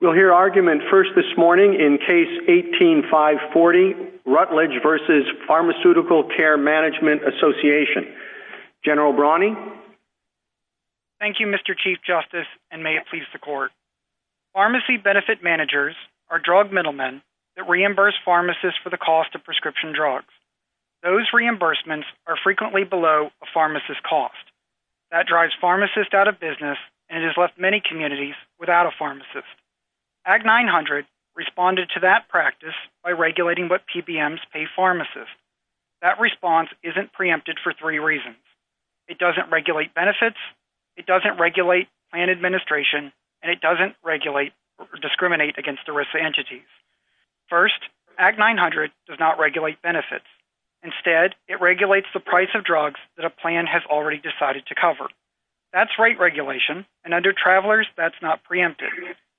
We'll hear argument first this morning in Case 18-540, Rutledge v. Pharmaceutical Care Management Association. General Brawney? Thank you, Mr. Chief Justice, and may it please the Court. Pharmacy benefit managers are drug middlemen that reimburse pharmacists for the cost of prescription drugs. Those reimbursements are frequently below a pharmacist's cost. That drives pharmacists out of business and has left many communities without a pharmacist. Act 900 responded to that practice by regulating what PBMs pay pharmacists. That response isn't preempted for three reasons. It doesn't regulate benefits, it doesn't regulate plan administration, and it doesn't regulate or discriminate against the risk entities. First, Act 900 does not regulate benefits. Instead, it regulates the price of drugs that a plan has already decided to cover. That's rate regulation, and under Travelers, that's not preempted.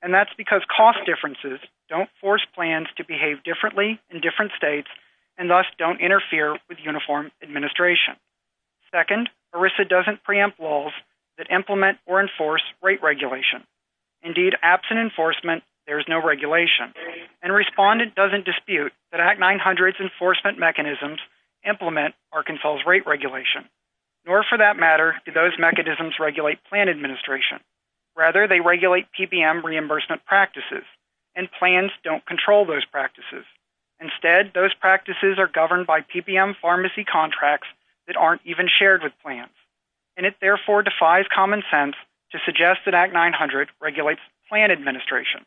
And that's because cost differences don't force plans to behave differently in different states and thus don't interfere with uniform administration. Second, ERISA doesn't preempt laws that implement or enforce rate regulation. Indeed, absent enforcement, there is no regulation. And Respondent doesn't dispute that Act 900's enforcement mechanisms implement Arkansas' rate regulation. Nor, for that matter, do those mechanisms regulate plan administration. Rather, they regulate PBM reimbursement practices, and plans don't control those practices. Instead, those practices are governed by PBM pharmacy contracts that aren't even shared with plans. And it, therefore, defies common sense to suggest that Act 900 regulates plan administration.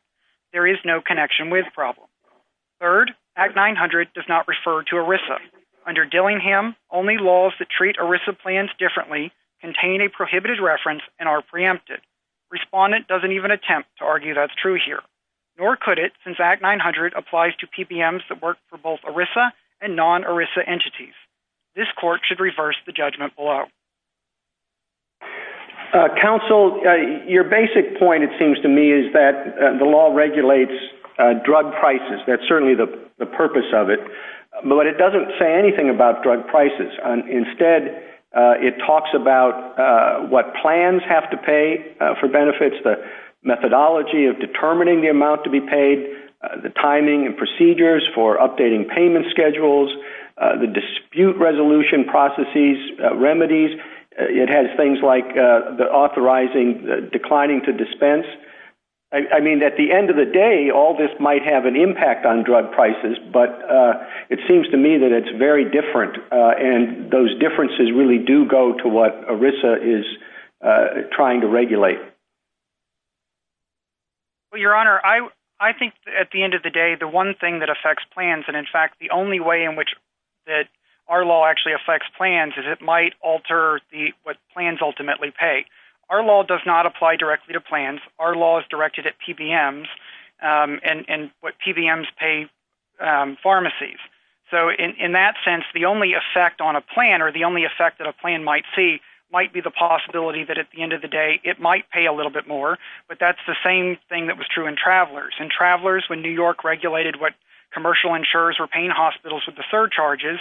There is no connection with problem. Third, Act 900 does not refer to ERISA. Under Dillingham, only laws that treat ERISA plans differently contain a prohibited reference and are preempted. Respondent doesn't even attempt to argue that's true here. Nor could it, since Act 900 applies to PBMs that work for both ERISA and non-ERISA entities. This court should reverse the judgment below. Counsel, your basic point, it seems to me, is that the law regulates drug prices. That's certainly the purpose of it. But it doesn't say anything about drug prices. Instead, it talks about what plans have to pay for benefits, the methodology of determining the amount to be paid, the timing and procedures for updating payment schedules, the dispute resolution processes, remedies, it has things like the authorizing declining to dispense. I mean, at the end of the day, all this might have an impact on drug prices. But it seems to me that it's very different. And those differences really do go to what ERISA is trying to regulate. Well, Your Honor, I think at the end of the day, the one thing that affects plans, and in fact the only way in which our law actually affects plans is it might alter what plans ultimately pay. Our law does not apply directly to plans. Our law is directed at PBMs and what PBMs pay pharmacies. So in that sense, the only effect on a plan or the only effect that a plan might see might be the possibility that at the end of the day it might pay a little bit more. But that's the same thing that was true in travelers. In travelers, when New York regulated what commercial insurers were paying hospitals with the surcharges,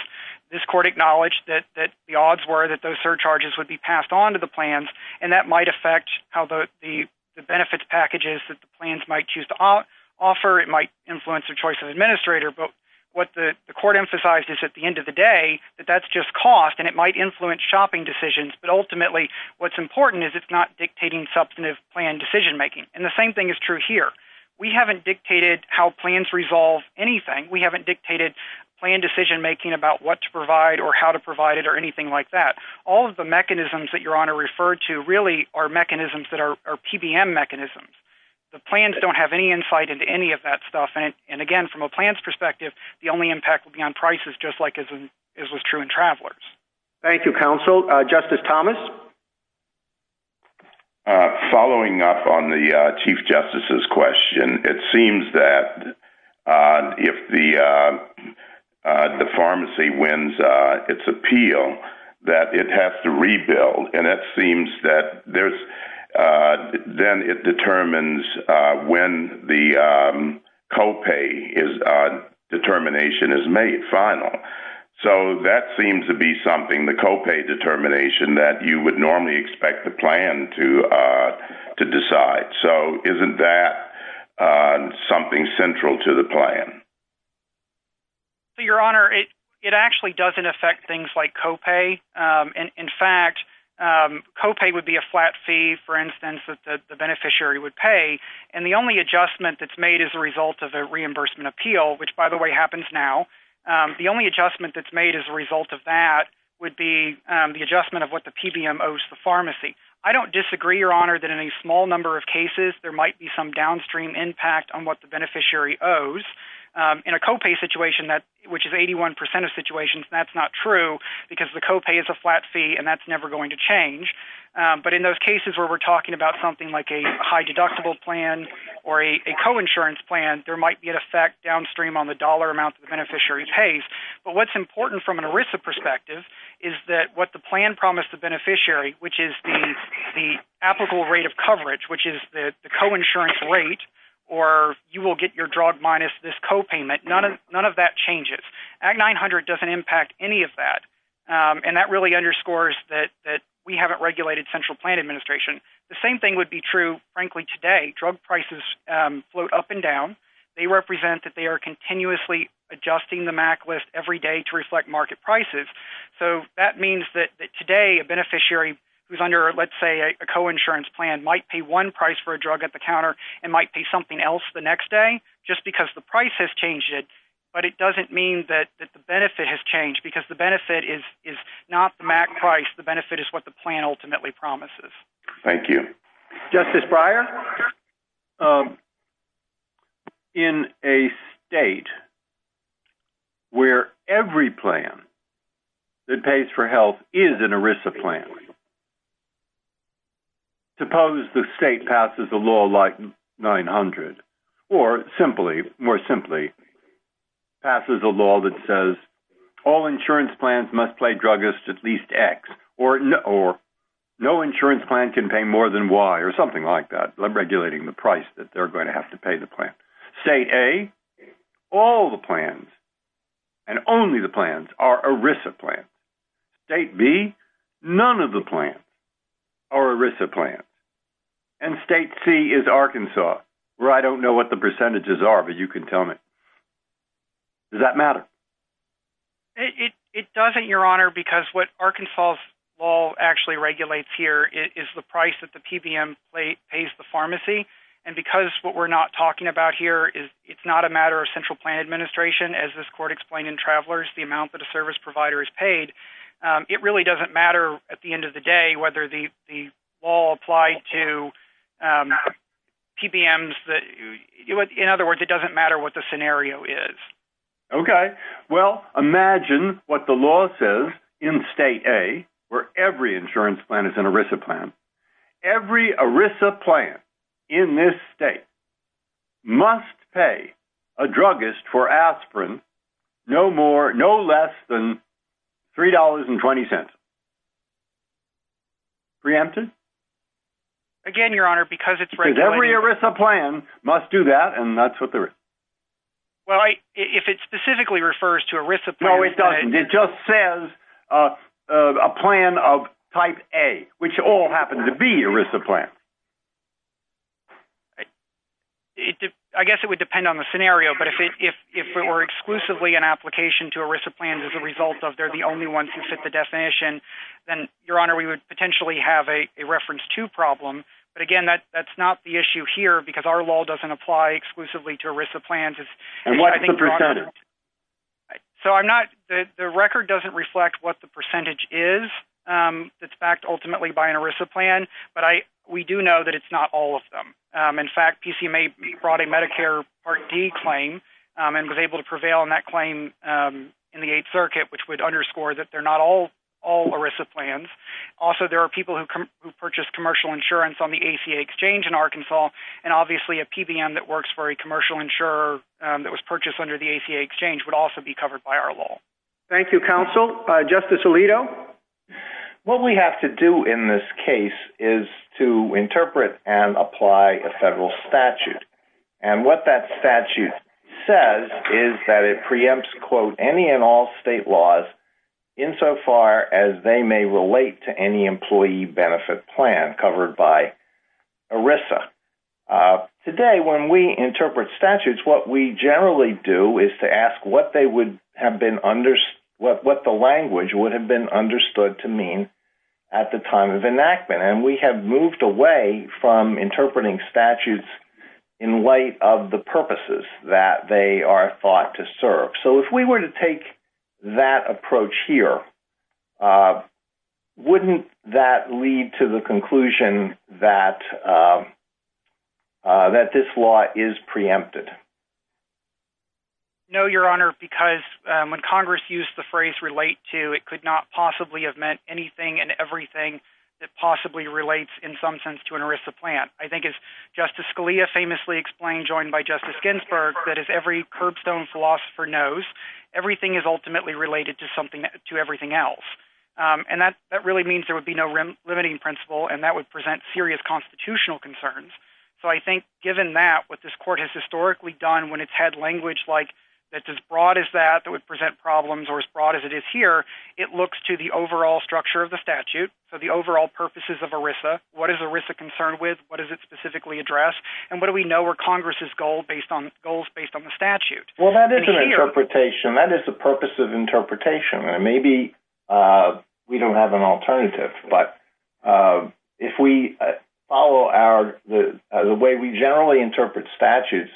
this court acknowledged that the odds were that those surcharges would be passed on to the plans, and that might affect how the benefits package is that the plans might choose to offer. It might influence the choice of administrator. But what the court emphasized is at the end of the day that that's just cost, and it might influence shopping decisions. But ultimately what's important is it's not dictating substantive plan decision-making. And the same thing is true here. We haven't dictated how plans resolve anything. We haven't dictated plan decision-making about what to provide or how to provide it or anything like that. All of the mechanisms that Your Honor referred to really are mechanisms that are PBM mechanisms. The plans don't have any insight into any of that stuff. And, again, from a plan's perspective, the only impact would be on prices just like it was true in travelers. Thank you, counsel. Justice Thomas? Following up on the Chief Justice's question, it seems that if the pharmacy wins its appeal that it has to rebuild, and it seems that then it determines when the copay determination is made final. So that seems to be something, the copay determination, that you would normally expect the plan to decide. So isn't that something central to the plan? Your Honor, it actually doesn't affect things like copay. In fact, copay would be a flat fee, for instance, that the beneficiary would pay. And the only adjustment that's made as a result of a reimbursement appeal, which, by the way, happens now, the only adjustment that's made as a result of that would be the adjustment of what the PBM owes to the pharmacy. I don't disagree, Your Honor, that in a small number of cases, there might be some downstream impact on what the beneficiary owes. In a copay situation, which is 81 percent of situations, that's not true because the copay is a flat fee, and that's never going to change. But in those cases where we're talking about something like a high deductible plan or a coinsurance plan, there might be an effect downstream on the dollar amount that the beneficiary pays. But what's important from an ERISA perspective is that what the plan promised the beneficiary, which is the applicable rate of coverage, which is the coinsurance rate, or you will get your drug minus this copayment, none of that changes. Act 900 doesn't impact any of that, and that really underscores that we haven't regulated central plan administration. The same thing would be true, frankly, today. Drug prices float up and down. They represent that they are continuously adjusting the MAC list every day to reflect market prices. So that means that today a beneficiary who's under, let's say, a coinsurance plan, might pay one price for a drug at the counter and might pay something else the next day just because the price has changed it, but it doesn't mean that the benefit has changed because the benefit is not the MAC price. The benefit is what the plan ultimately promises. Thank you. Justice Breyer? In a state where every plan that pays for health is an ERISA plan, suppose the state passes a law like 900 or simply, more simply, passes a law that says all insurance plans must pay druggists at least X, or no insurance plan can pay more than Y or something like that. I'm regulating the price that they're going to have to pay the plan. State A, all the plans and only the plans are ERISA plans. State B, none of the plans are ERISA plans. And state C is Arkansas, where I don't know what the percentages are, but you can tell me. Does that matter? It doesn't, Your Honor, because what Arkansas' law actually regulates here is the price that the PBM pays the pharmacy, and because what we're not talking about here is it's not a matter of central plan administration, as this court explained in Travelers, the amount that a service provider is paid. It really doesn't matter at the end of the day whether the law applied to PBMs. In other words, it doesn't matter what the scenario is. Okay. Well, imagine what the law says in state A, where every insurance plan is an ERISA plan. Every ERISA plan in this state must pay a druggist for aspirin no more, no less than $3.20. Preempted? Again, Your Honor, because it's regulated. Because every ERISA plan must do that, and that's what they're... Well, if it specifically refers to ERISA plans... No, it doesn't. It just says a plan of type A, which all happen to be ERISA plans. I guess it would depend on the scenario, but if it were exclusively an application to ERISA plans as a result of they're the only ones who fit the definition, then, Your Honor, we would potentially have a reference to problem, but, again, that's not the issue here because our law doesn't apply exclusively to ERISA plans. And what's the precedent? So I'm not... The record doesn't reflect what the percentage is that's backed ultimately by an ERISA plan, but we do know that it's not all of them. In fact, PCMA brought a Medicare Part D claim and was able to prevail on that claim in the Eighth Circuit, which would underscore that they're not all ERISA plans. Also, there are people who purchase commercial insurance on the ACA Exchange in Arkansas, and obviously a PBM that works for a commercial insurer that was purchased under the ACA Exchange would also be covered by our law. Thank you, counsel. Justice Alito? What we have to do in this case is to interpret and apply a federal statute, and what that statute says is that it preempts, quote, Today, when we interpret statutes, what we generally do is to ask what the language would have been understood to mean at the time of enactment, and we have moved away from interpreting statutes in light of the purposes that they are thought to serve. So if we were to take that approach here, wouldn't that lead to the conclusion that this law is preempted? No, Your Honor, because when Congress used the phrase relate to, it could not possibly have meant anything and everything that possibly relates in some sense to an ERISA plan. I think, as Justice Scalia famously explained, joined by Justice Ginsburg, that if every curbstone philosopher knows, everything is ultimately related to everything else, and that really means there would be no limiting principle, and that would present serious constitutional concerns. So I think, given that, what this Court has historically done when it's had language that's as broad as that that would present problems or as broad as it is here, it looks to the overall structure of the statute, so the overall purposes of ERISA, what is ERISA concerned with, what is it specifically addressed, and what do we know are Congress's goals based on the statute? Well, that is an interpretation. That is the purpose of interpretation, and maybe we don't have an alternative, but if we follow the way we generally interpret statutes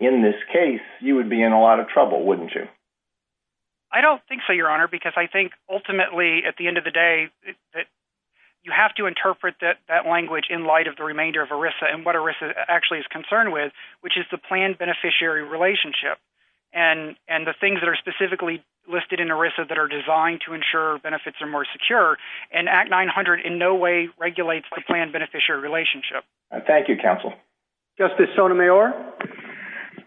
in this case, you would be in a lot of trouble, wouldn't you? I don't think so, Your Honor, because I think, ultimately, at the end of the day, you have to interpret that language in light of the remainder of ERISA and what ERISA actually is concerned with, which is the planned beneficiary relationship and the things that are specifically listed in ERISA that are designed to ensure benefits are more secure, and Act 900 in no way regulates the planned beneficiary relationship. Thank you, Counsel. Justice Sotomayor?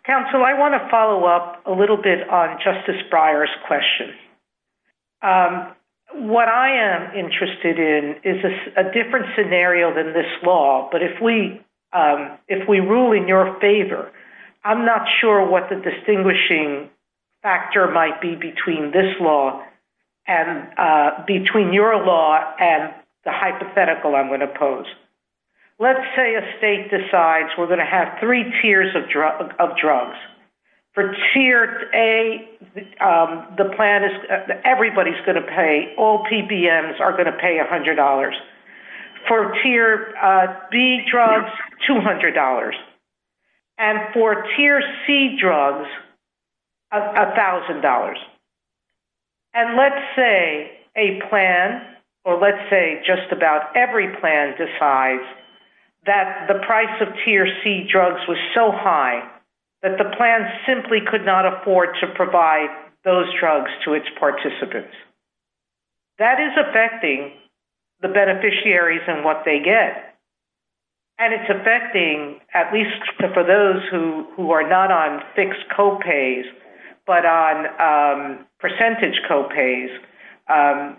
Counsel, I want to follow up a little bit on Justice Breyer's question. What I am interested in is a different scenario than this law, but if we rule in your favor, I'm not sure what the distinguishing factor might be between this law and between your law and the hypothetical I'm going to pose. Let's say a state decides we're going to have three tiers of drugs. For Tier A, the plan is everybody's going to pay. All PPMs are going to pay $100. For Tier B drugs, $200. And for Tier C drugs, $1,000. And let's say a plan or let's say just about every plan decides that the price of Tier C drugs was so high that the plan simply could not afford to provide those drugs to its participants. That is affecting the beneficiaries and what they get. And it's affecting at least for those who are not on fixed co-pays but on percentage co-pays.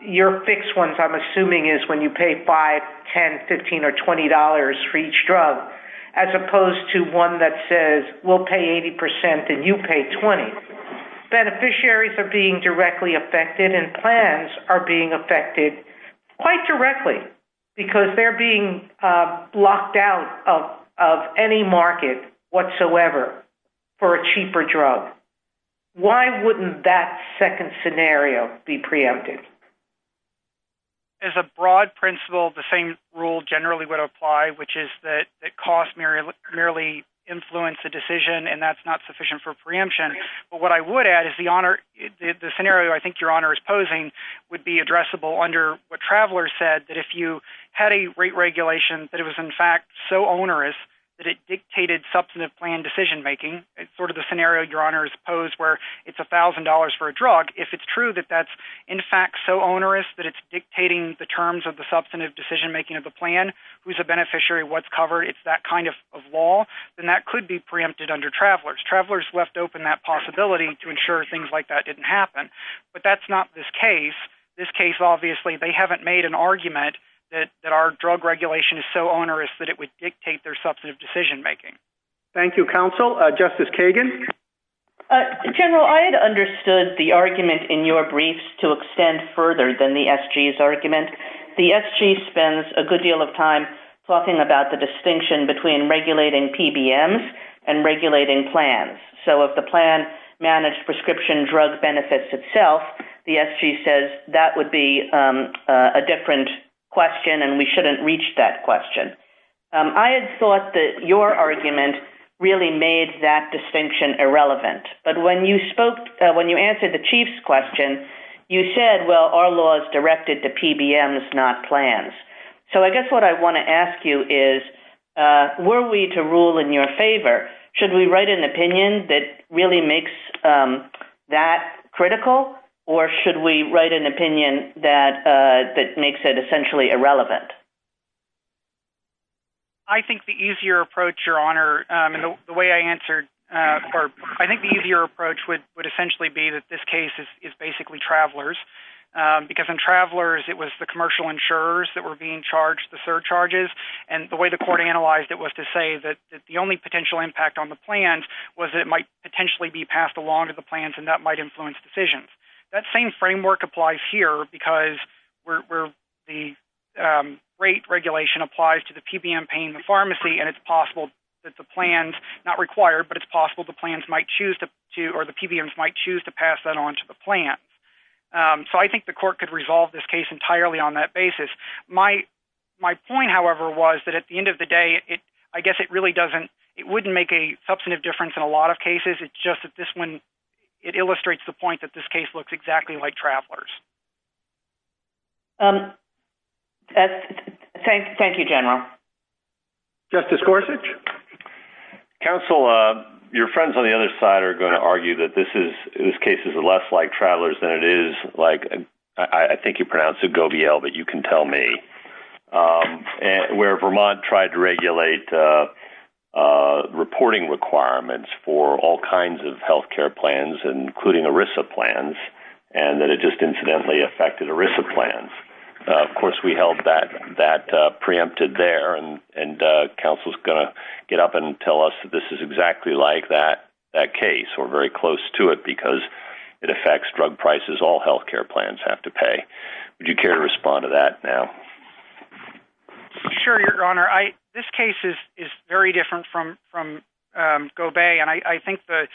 Your fixed ones I'm assuming is when you pay $5, $10, $15, or $20 for each drug as opposed to one that says we'll pay 80% and you pay 20. Beneficiaries are being directly affected and plans are being affected quite directly because they're being blocked out of any market whatsoever for a cheaper drug. Why wouldn't that second scenario be preempted? As a broad principle, the same rule generally would apply, which is that costs merely influence a decision and that's not sufficient for preemption. But what I would add is the scenario I think Your Honor is posing would be addressable under what Travelers said, that if you had a rate regulation that it was in fact so onerous that it dictated substantive plan decision-making, sort of the scenario Your Honor has posed where it's $1,000 for a drug, if it's true that that's in fact so onerous that it's dictating the terms of the substantive decision-making of the plan, who's a beneficiary, what's covered, it's that kind of law, then that could be preempted under Travelers. Travelers left open that possibility to ensure things like that didn't happen. But that's not this case. This case, obviously, they haven't made an argument that our drug regulation is so onerous that it would dictate their substantive decision-making. Thank you, Counsel. Justice Kagan? General, I had understood the argument in your briefs to extend further than the SG's argument. The SG spends a good deal of time talking about the distinction between regulating PBMs and regulating plans. So if the plan managed prescription drug benefits itself, the SG says that would be a different question and we shouldn't reach that question. I had thought that your argument really made that distinction irrelevant. But when you answered the Chief's question, you said, well, our law is directed to PBMs, not plans. So I guess what I want to ask you is, were we to rule in your favor, should we write an opinion that really makes that critical or should we write an opinion that makes it essentially irrelevant? I think the easier approach, Your Honor, would essentially be that this case is basically travelers. Because in travelers, it was the commercial insurers that were being charged the surcharges. And the way the court analyzed it was to say that the only potential impact on the plans was it might potentially be passed along to the plans and that might influence decisions. That same framework applies here because the rate regulation applies to the PBM paying the pharmacy and it's possible that the plans, not required, but it's possible the plans might choose to, or the PBMs might choose to pass that on to the plan. So I think the court could resolve this case entirely on that basis. My point, however, was that at the end of the day, I guess it really doesn't, it wouldn't make a substantive difference in a lot of cases. It's just that this one, it illustrates the point that this case looks exactly like travelers. Thank you, General. Justice Gorsuch? Counsel, your friends on the other side are going to argue that this case is less like travelers than it is like, I think you pronounced it Govielle, but you can tell me, where Vermont tried to regulate reporting requirements for all kinds of healthcare plans, including ERISA plans, and that it just incidentally affected ERISA plans. Of course, we held that preempted there, and counsel's going to get up and tell us that this is exactly like that case. We're very close to it because it affects drug prices all healthcare plans have to pay. Would you care to respond to that now? Sure, Your Honor. This case is very different from Gobey, and I think the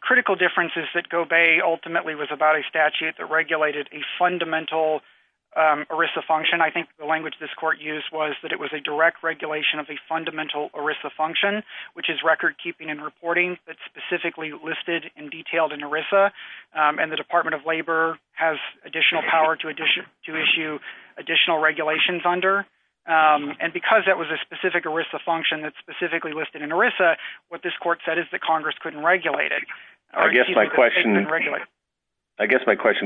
critical difference is that Gobey ultimately was about a statute that regulated a fundamental ERISA function. I think the language this court used was that it was a direct regulation of a fundamental ERISA function, which is recordkeeping and reporting that's specifically listed and detailed in ERISA, and the Department of Labor has additional power to issue additional regulations under. And because that was a specific ERISA function that's specifically listed in ERISA, what this court said is that Congress couldn't regulate it. I guess my question,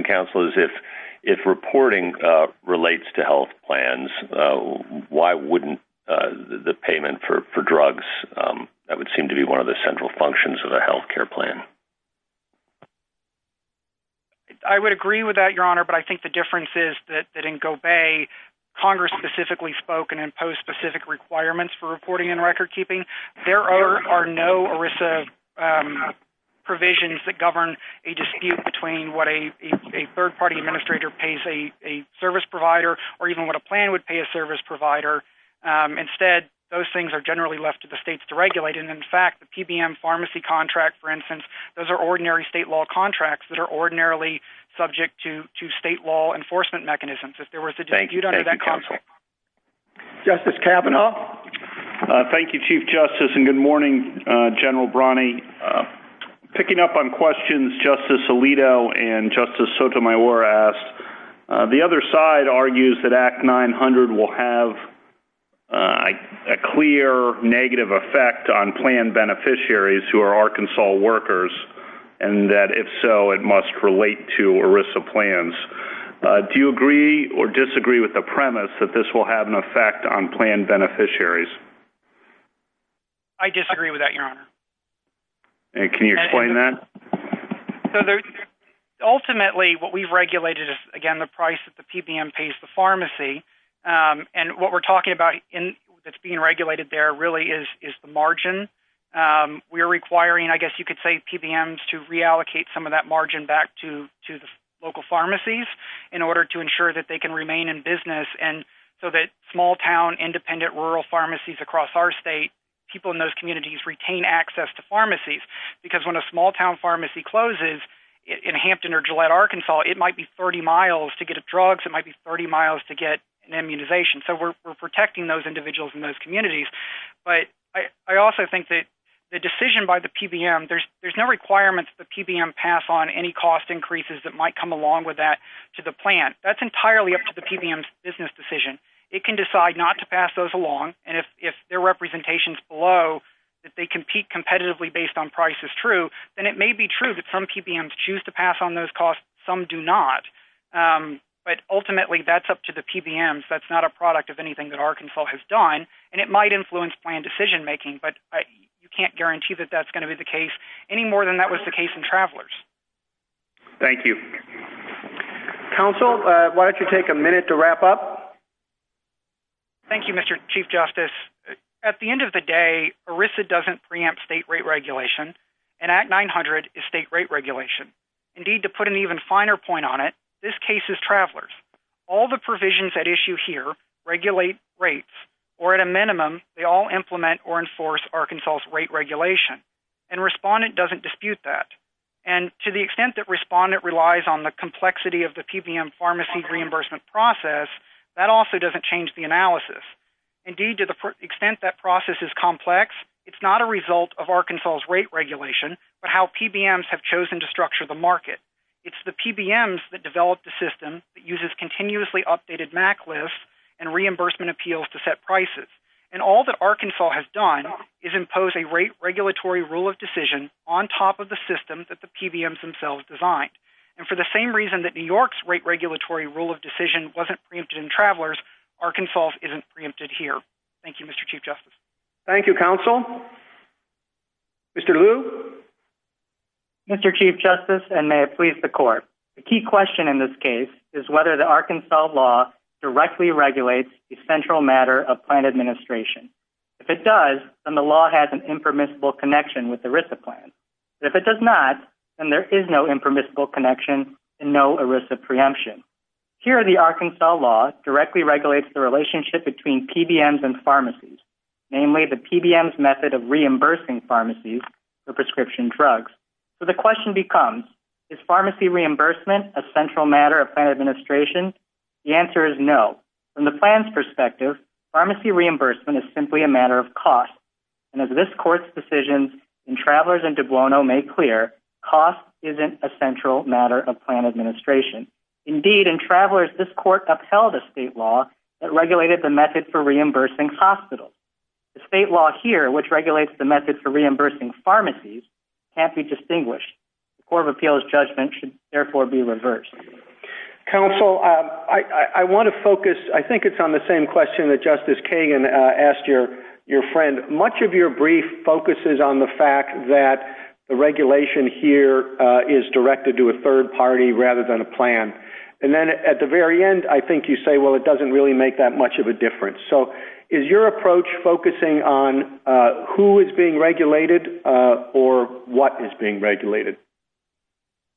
counsel, is if reporting relates to health plans, why wouldn't the payment for drugs? That would seem to be one of the central functions of the healthcare plan. I would agree with that, Your Honor, but I think the difference is that in Gobey, Congress specifically spoke and imposed specific requirements for reporting and recordkeeping. There are no ERISA provisions that govern a dispute between what a third-party administrator pays a service provider or even what a plan would pay a service provider. Instead, those things are generally left to the states to regulate, and, in fact, the PBM pharmacy contract, for instance, those are ordinary state law contracts that are ordinarily subject to state law enforcement mechanisms. Thank you, counsel. Justice Kavanaugh? Thank you, Chief Justice, and good morning, General Brani. Picking up on questions Justice Alito and Justice Sotomayor asked, the other side argues that Act 900 will have a clear negative effect on plan beneficiaries who are Arkansas workers and that, if so, it must relate to ERISA plans. Do you agree or disagree with the premise that this will have an effect on plan beneficiaries? I disagree with that, Your Honor. Can you explain that? Ultimately, what we've regulated is, again, the price that the PBM pays the pharmacy, and what we're talking about that's being regulated there really is the margin. We're requiring, I guess you could say, PBMs to reallocate some of that margin back to the local pharmacies in order to ensure that they can remain in business, and so that small-town independent rural pharmacies across our state, people in those communities retain access to pharmacies, because when a small-town pharmacy closes in Hampton or Gillette, Arkansas, it might be 30 miles to get drugs. It might be 30 miles to get an immunization, so we're protecting those individuals in those communities. But I also think that the decision by the PBM, there's no requirement that the PBM pass on any cost increases that might come along with that to the plan. That's entirely up to the PBM's business decision. It can decide not to pass those along, and if their representations below that they compete competitively based on price is true, then it may be true that some PBMs choose to pass on those costs, some do not. But ultimately, that's up to the PBMs. That's not a product of anything that Arkansas has done, and it might influence plan decision-making, but you can't guarantee that that's going to be the case any more than that was the case in Travelers. Thank you. Counsel, why don't you take a minute to wrap up? Thank you, Mr. Chief Justice. At the end of the day, ERISA doesn't preempt state rate regulation, and Act 900 is state rate regulation. Indeed, to put an even finer point on it, this case is Travelers. All the provisions at issue here regulate rates, or at a minimum, they all implement or enforce Arkansas' rate regulation, and Respondent doesn't dispute that. And to the extent that Respondent relies on the complexity of the PBM pharmacy reimbursement process, that also doesn't change the analysis. Indeed, to the extent that process is complex, it's not a result of Arkansas' rate regulation, but how PBMs have chosen to structure the market. It's the PBMs that develop the system that uses continuously updated MAC lists and reimbursement appeals to set prices. And all that Arkansas has done is impose a rate regulatory rule of decision on top of the system that the PBMs themselves designed. And for the same reason that New York's rate regulatory rule of decision wasn't preempted in Travelers, Arkansas' isn't preempted here. Thank you, Mr. Chief Justice. Thank you, Counsel. Mr. Liu? Mr. Chief Justice, and may it please the Court, the key question in this case is whether the Arkansas law directly regulates the central matter of plant administration. If it does, then the law has an impermissible connection with the ERISA plan. If it does not, then there is no impermissible connection and no ERISA preemption. Here, the Arkansas law directly regulates the relationship between PBMs and pharmacies, namely the PBMs' method of reimbursing pharmacies for prescription drugs. So the question becomes, is pharmacy reimbursement a central matter of plant administration? The answer is no. From the plan's perspective, pharmacy reimbursement is simply a matter of cost. And as this Court's decision in Travelers and DiBuono made clear, cost isn't a central matter of plant administration. Indeed, in Travelers, this Court upheld a state law that regulated the method for reimbursing hospitals. The state law here, which regulates the method for reimbursing pharmacies, can't be distinguished. The Court of Appeals' judgment should therefore be reversed. Counsel, I want to focus. I think it's on the same question that Justice Kagan asked your friend. Much of your brief focuses on the fact that the regulation here is directed to a third party rather than a plan. And then at the very end, I think you say, well, it doesn't really make that much of a difference. So is your approach focusing on who is being regulated or what is being regulated?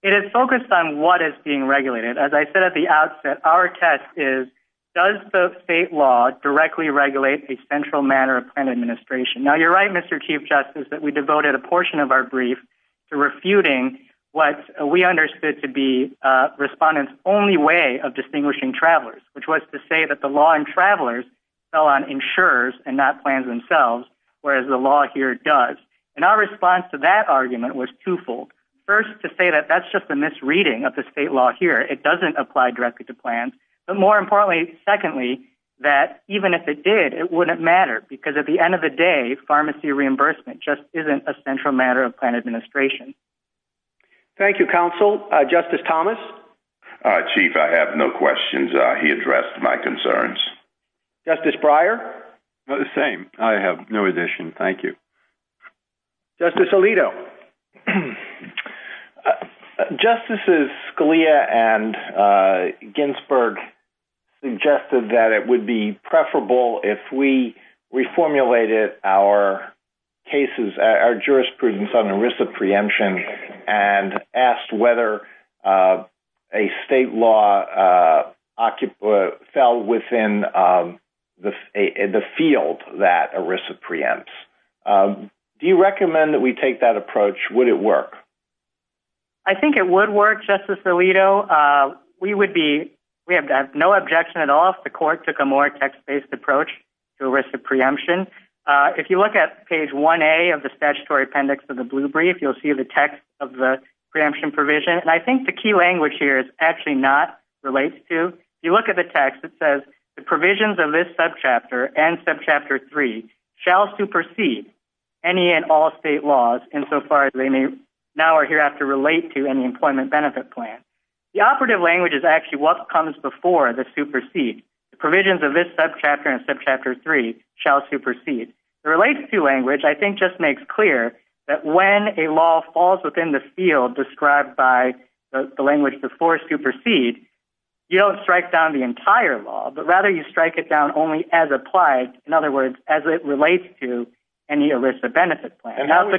It is focused on what is being regulated. As I said at the outset, our test is does the state law directly regulate a central matter of plant administration? Now, you're right, Mr. Chief Justice, that we devoted a portion of our brief to refuting what we understood to be respondents' only way of distinguishing travelers, which was to say that the law in Travelers fell on insurers and not plans themselves, whereas the law here does. And our response to that argument was twofold. First, to say that that's just a misreading of the state law here. It doesn't apply directly to plans. But more importantly, secondly, that even if it did, it wouldn't matter because at the end of the day, pharmacy reimbursement just isn't a central matter of plant administration. Thank you, Counsel. Justice Thomas? Chief, I have no questions. He addressed my concerns. Justice Breyer? The same. I have no addition. Thank you. Justice Alito? No. Justices Scalia and Ginsburg suggested that it would be preferable if we reformulated our jurisprudence on ERISA preemption and asked whether a state law fell within the field that ERISA preempts. Do you recommend that we take that approach? Would it work? I think it would work, Justice Alito. We have no objection at all if the court took a more text-based approach to ERISA preemption. If you look at page 1A of the statutory appendix of the Blue Brief, you'll see the text of the preemption provision. And I think the key language here is actually not relates to. If you look at the text, it says, the provisions of this subchapter and subchapter 3 shall supersede any and all state laws insofar as they may now or hereafter relate to any employment benefit plan. The operative language is actually what comes before the supersede. The provisions of this subchapter and subchapter 3 shall supersede. The relates to language, I think, just makes clear that when a law falls within the field described by the language before supersede, you don't strike down the entire law, but rather you strike it down only as applied. In other words, as it relates to any ERISA benefit plan. How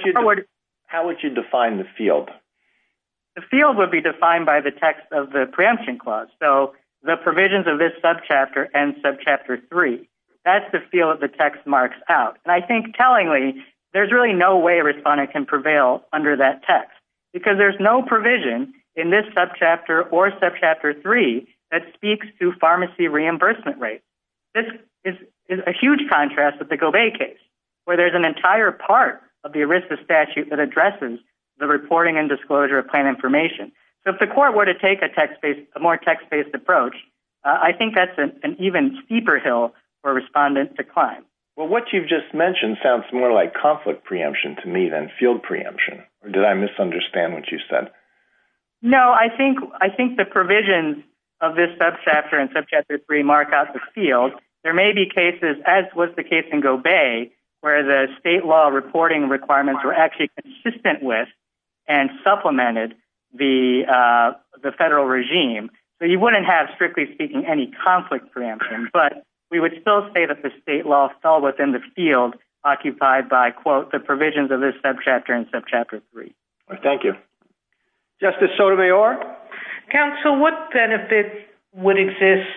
would you define the field? The field would be defined by the text of the preemption clause. So the provisions of this subchapter and subchapter 3, that's the field that the text marks out. And I think tellingly, there's really no way a responder can prevail under that text because there's no provision in this subchapter or subchapter 3 that speaks to pharmacy reimbursement rates. This is a huge contrast with the Govay case, where there's an entire part of the ERISA statute that addresses the reporting and disclosure of plan information. So if the court were to take a more text-based approach, I think that's an even steeper hill for respondents to climb. Well, what you've just mentioned sounds more like conflict preemption to me than field preemption. Did I misunderstand what you said? No, I think the provisions of this subchapter and subchapter 3 mark out the field. There may be cases, as was the case in Govay, where the state law reporting requirements were actually consistent with and supplemented the federal regime. So you wouldn't have, strictly speaking, any conflict preemption, but we would still say that the state law fell within the field occupied by, quote, the provisions of this subchapter and subchapter 3. Thank you. Justice Sotomayor? Counsel, what benefits would exist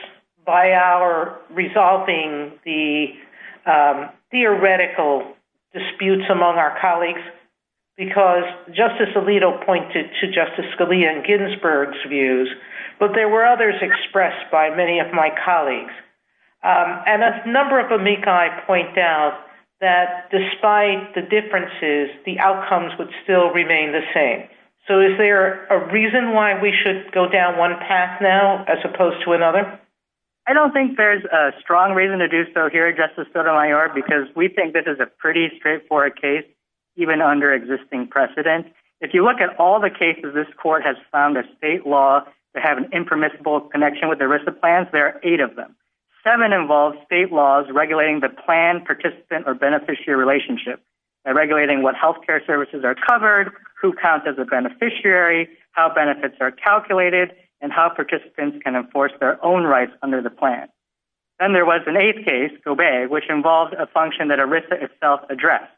by our resolving the theoretical disputes among our colleagues? Because Justice Alito pointed to Justice Scalia and Ginsburg's views, but there were others expressed by many of my colleagues. And a number of amici point out that despite the differences, the outcomes would still remain the same. So is there a reason why we should go down one path now as opposed to another? I don't think there's a strong reason to do so here, Justice Sotomayor, because we think this is a pretty straightforward case, even under existing precedent. If you look at all the cases this court has found of state law that have an impermissible connection with the risk of plans, there are eight of them. Seven involve state laws regulating the plan, participant, or beneficiary relationship, regulating what health care services are covered, who counts as a beneficiary, how benefits are calculated, and how participants can enforce their own rights under the plan. Then there was an eighth case, Gobey, which involved a function that ERISA itself addressed.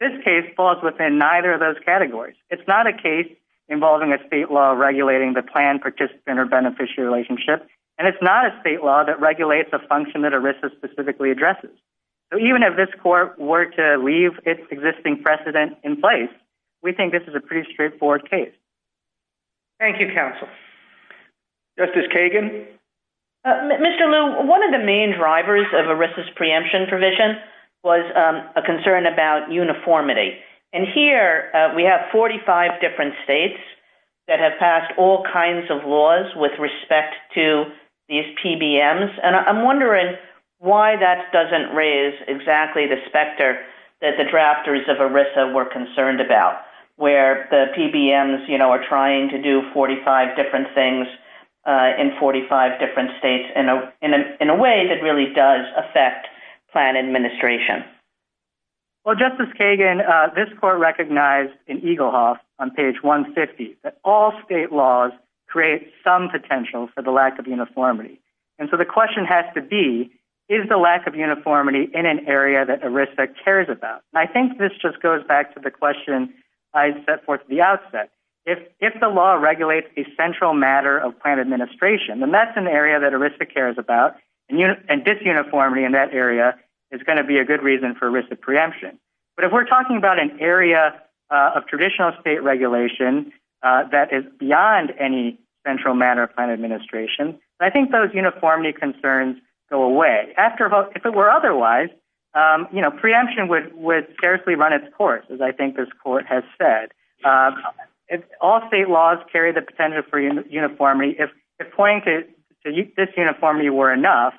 This case falls within neither of those categories. It's not a case involving a state law regulating the plan, participant, or beneficiary relationship, and it's not a state law that regulates a function that ERISA specifically addresses. So even if this court were to leave its existing precedent in place, we think this is a pretty straightforward case. Thank you, counsel. Justice Kagan? Mr. Lew, one of the main drivers of ERISA's preemption provision was a concern about uniformity. And here we have 45 different states that have passed all kinds of laws with respect to these PBMs, and I'm wondering why that doesn't raise exactly the specter that the drafters of ERISA were concerned about, where the PBMs are trying to do 45 different things in 45 different states in a way that really does affect plan administration. Well, Justice Kagan, this court recognized in Eaglehawk on page 150 that all state laws create some potential for the lack of uniformity. And so the question has to be, is the lack of uniformity in an area that ERISA cares about? I think this just goes back to the question I set forth at the outset. If the law regulates a central matter of plan administration, then that's an area that ERISA cares about, and disuniformity in that area is going to be a good reason for ERISA preemption. But if we're talking about an area of traditional state regulation that is beyond any central matter of plan administration, I think those uniformity concerns go away. If it were otherwise, you know, preemption would seriously run its course, as I think this court has said. All state laws carry the potential for uniformity. If pointed to this uniformity were enough,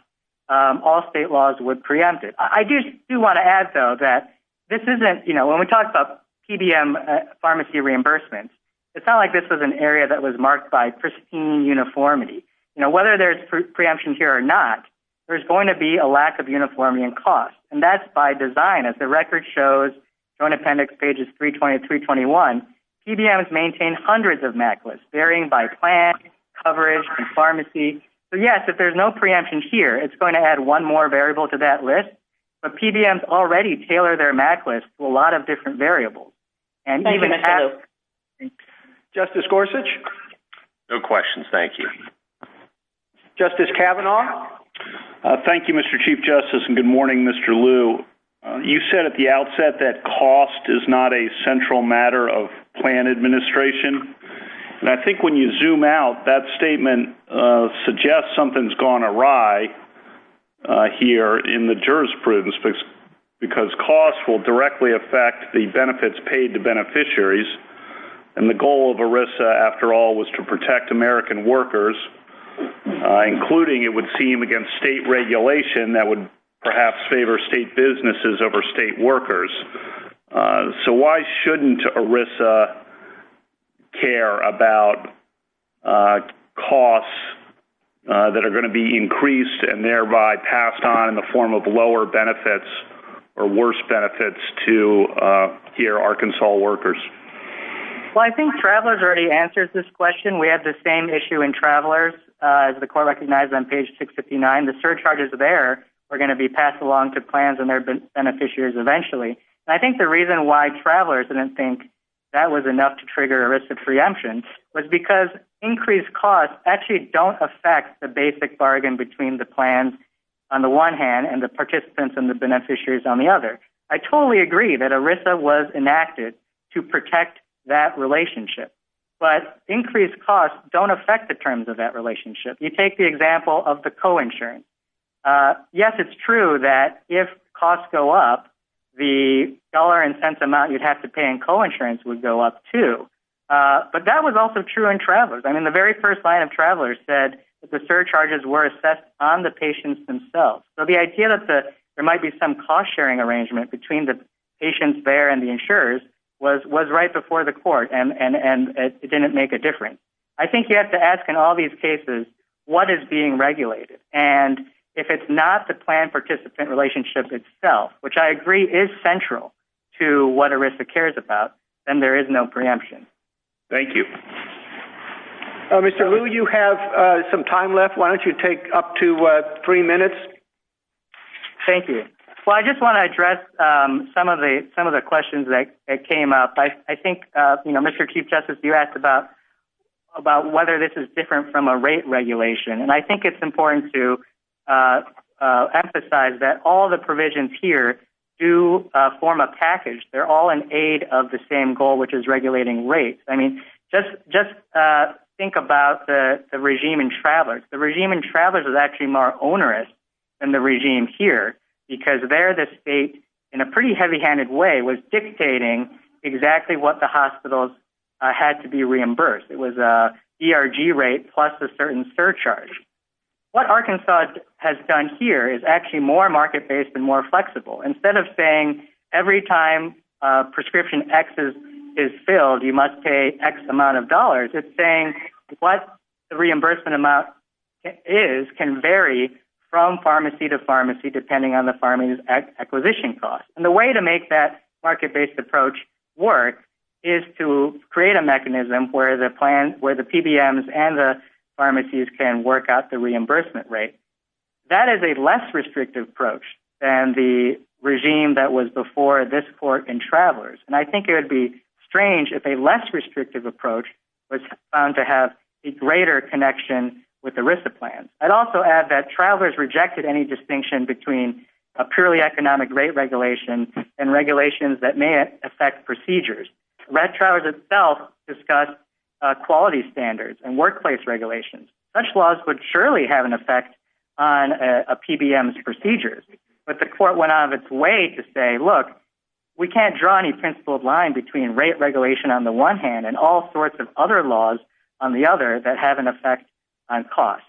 all state laws would preempt it. I do want to add, though, that this isn't, you know, when we talk about PBM pharmacy reimbursement, it's not like this was an area that was marked by pristine uniformity. You know, whether there's preemption here or not, there's going to be a lack of uniformity in cost. And that's by design. As the record shows, Joint Appendix Pages 320 and 321, PBMs maintain hundreds of MAC lists, varying by plan, coverage, and pharmacy. So, yes, if there's no preemption here, it's going to add one more variable to that list. But PBMs already tailor their MAC lists to a lot of different variables. Thank you. Justice Gorsuch? No questions. Thank you. Justice Kavanaugh? Thank you, Mr. Chief Justice, and good morning, Mr. Liu. You said at the outset that cost is not a central matter of plan administration. And I think when you zoom out, that statement suggests something's gone awry here in the jurisprudence, because cost will directly affect the benefits paid to beneficiaries. And the goal of ERISA, after all, was to protect American workers, including, it would seem, against state regulation that would perhaps favor state businesses over state workers. So why shouldn't ERISA care about costs that are going to be increased and thereby passed on in the form of lower benefits or worse benefits to, here, Arkansas workers? Well, I think Travelers already answered this question. We had the same issue in Travelers, as the Court recognized on Page 659. And the surcharges there are going to be passed along to plans and their beneficiaries eventually. And I think the reason why Travelers didn't think that was enough to trigger ERISA preemption was because increased costs actually don't affect the basic bargain between the plans on the one hand and the participants and the beneficiaries on the other. I totally agree that ERISA was enacted to protect that relationship. But increased costs don't affect the terms of that relationship. You take the example of the coinsurance. Yes, it's true that if costs go up, the dollar and cents amount you'd have to pay in coinsurance would go up, too. But that was also true in Travelers. I mean, the very first line of Travelers said that the surcharges were assessed on the patients themselves. So the idea that there might be some cost-sharing arrangement between the patients there and the insurers was right before the Court, and it didn't make a difference. I think you have to ask in all these cases, what is being regulated? And if it's not the plan participant relationship itself, which I agree is central to what ERISA cares about, then there is no preemption. Thank you. Mr. Liu, you have some time left. Why don't you take up to three minutes? Thank you. Well, I just want to address some of the questions that came up. I think, you know, Mr. Chief Justice, you asked about whether this is different from a rate regulation, and I think it's important to emphasize that all the provisions here do form a package. They're all an aid of the same goal, which is regulating rates. I mean, just think about the regime in Travelers. The regime in Travelers is actually more onerous than the regime here, because there the state, in a pretty heavy-handed way, was dictating exactly what the hospitals had to be reimbursed. It was a DRG rate plus a certain surcharge. What Arkansas has done here is actually more market-based and more flexible. Instead of saying every time prescription X is filled, you must pay X amount of dollars, it's saying what the reimbursement amount is can vary from pharmacy to pharmacy depending on the pharmacy's acquisition cost. And the way to make that market-based approach work is to create a mechanism where the PBMs and the pharmacies can work out the reimbursement rate. That is a less restrictive approach than the regime that was before this court in Travelers. And I think it would be strange if a less restrictive approach was found to have a greater connection with the RISA plan. I'd also add that Travelers rejected any distinction between a purely economic rate regulation and regulations that may affect procedures. Red Travelers itself discussed quality standards and workplace regulations. Such laws would surely have an effect on a PBM's procedures. But the court went out of its way to say, look, we can't draw any principled line between rate regulation on the one hand and all sorts of other laws on the other that have an effect on cost.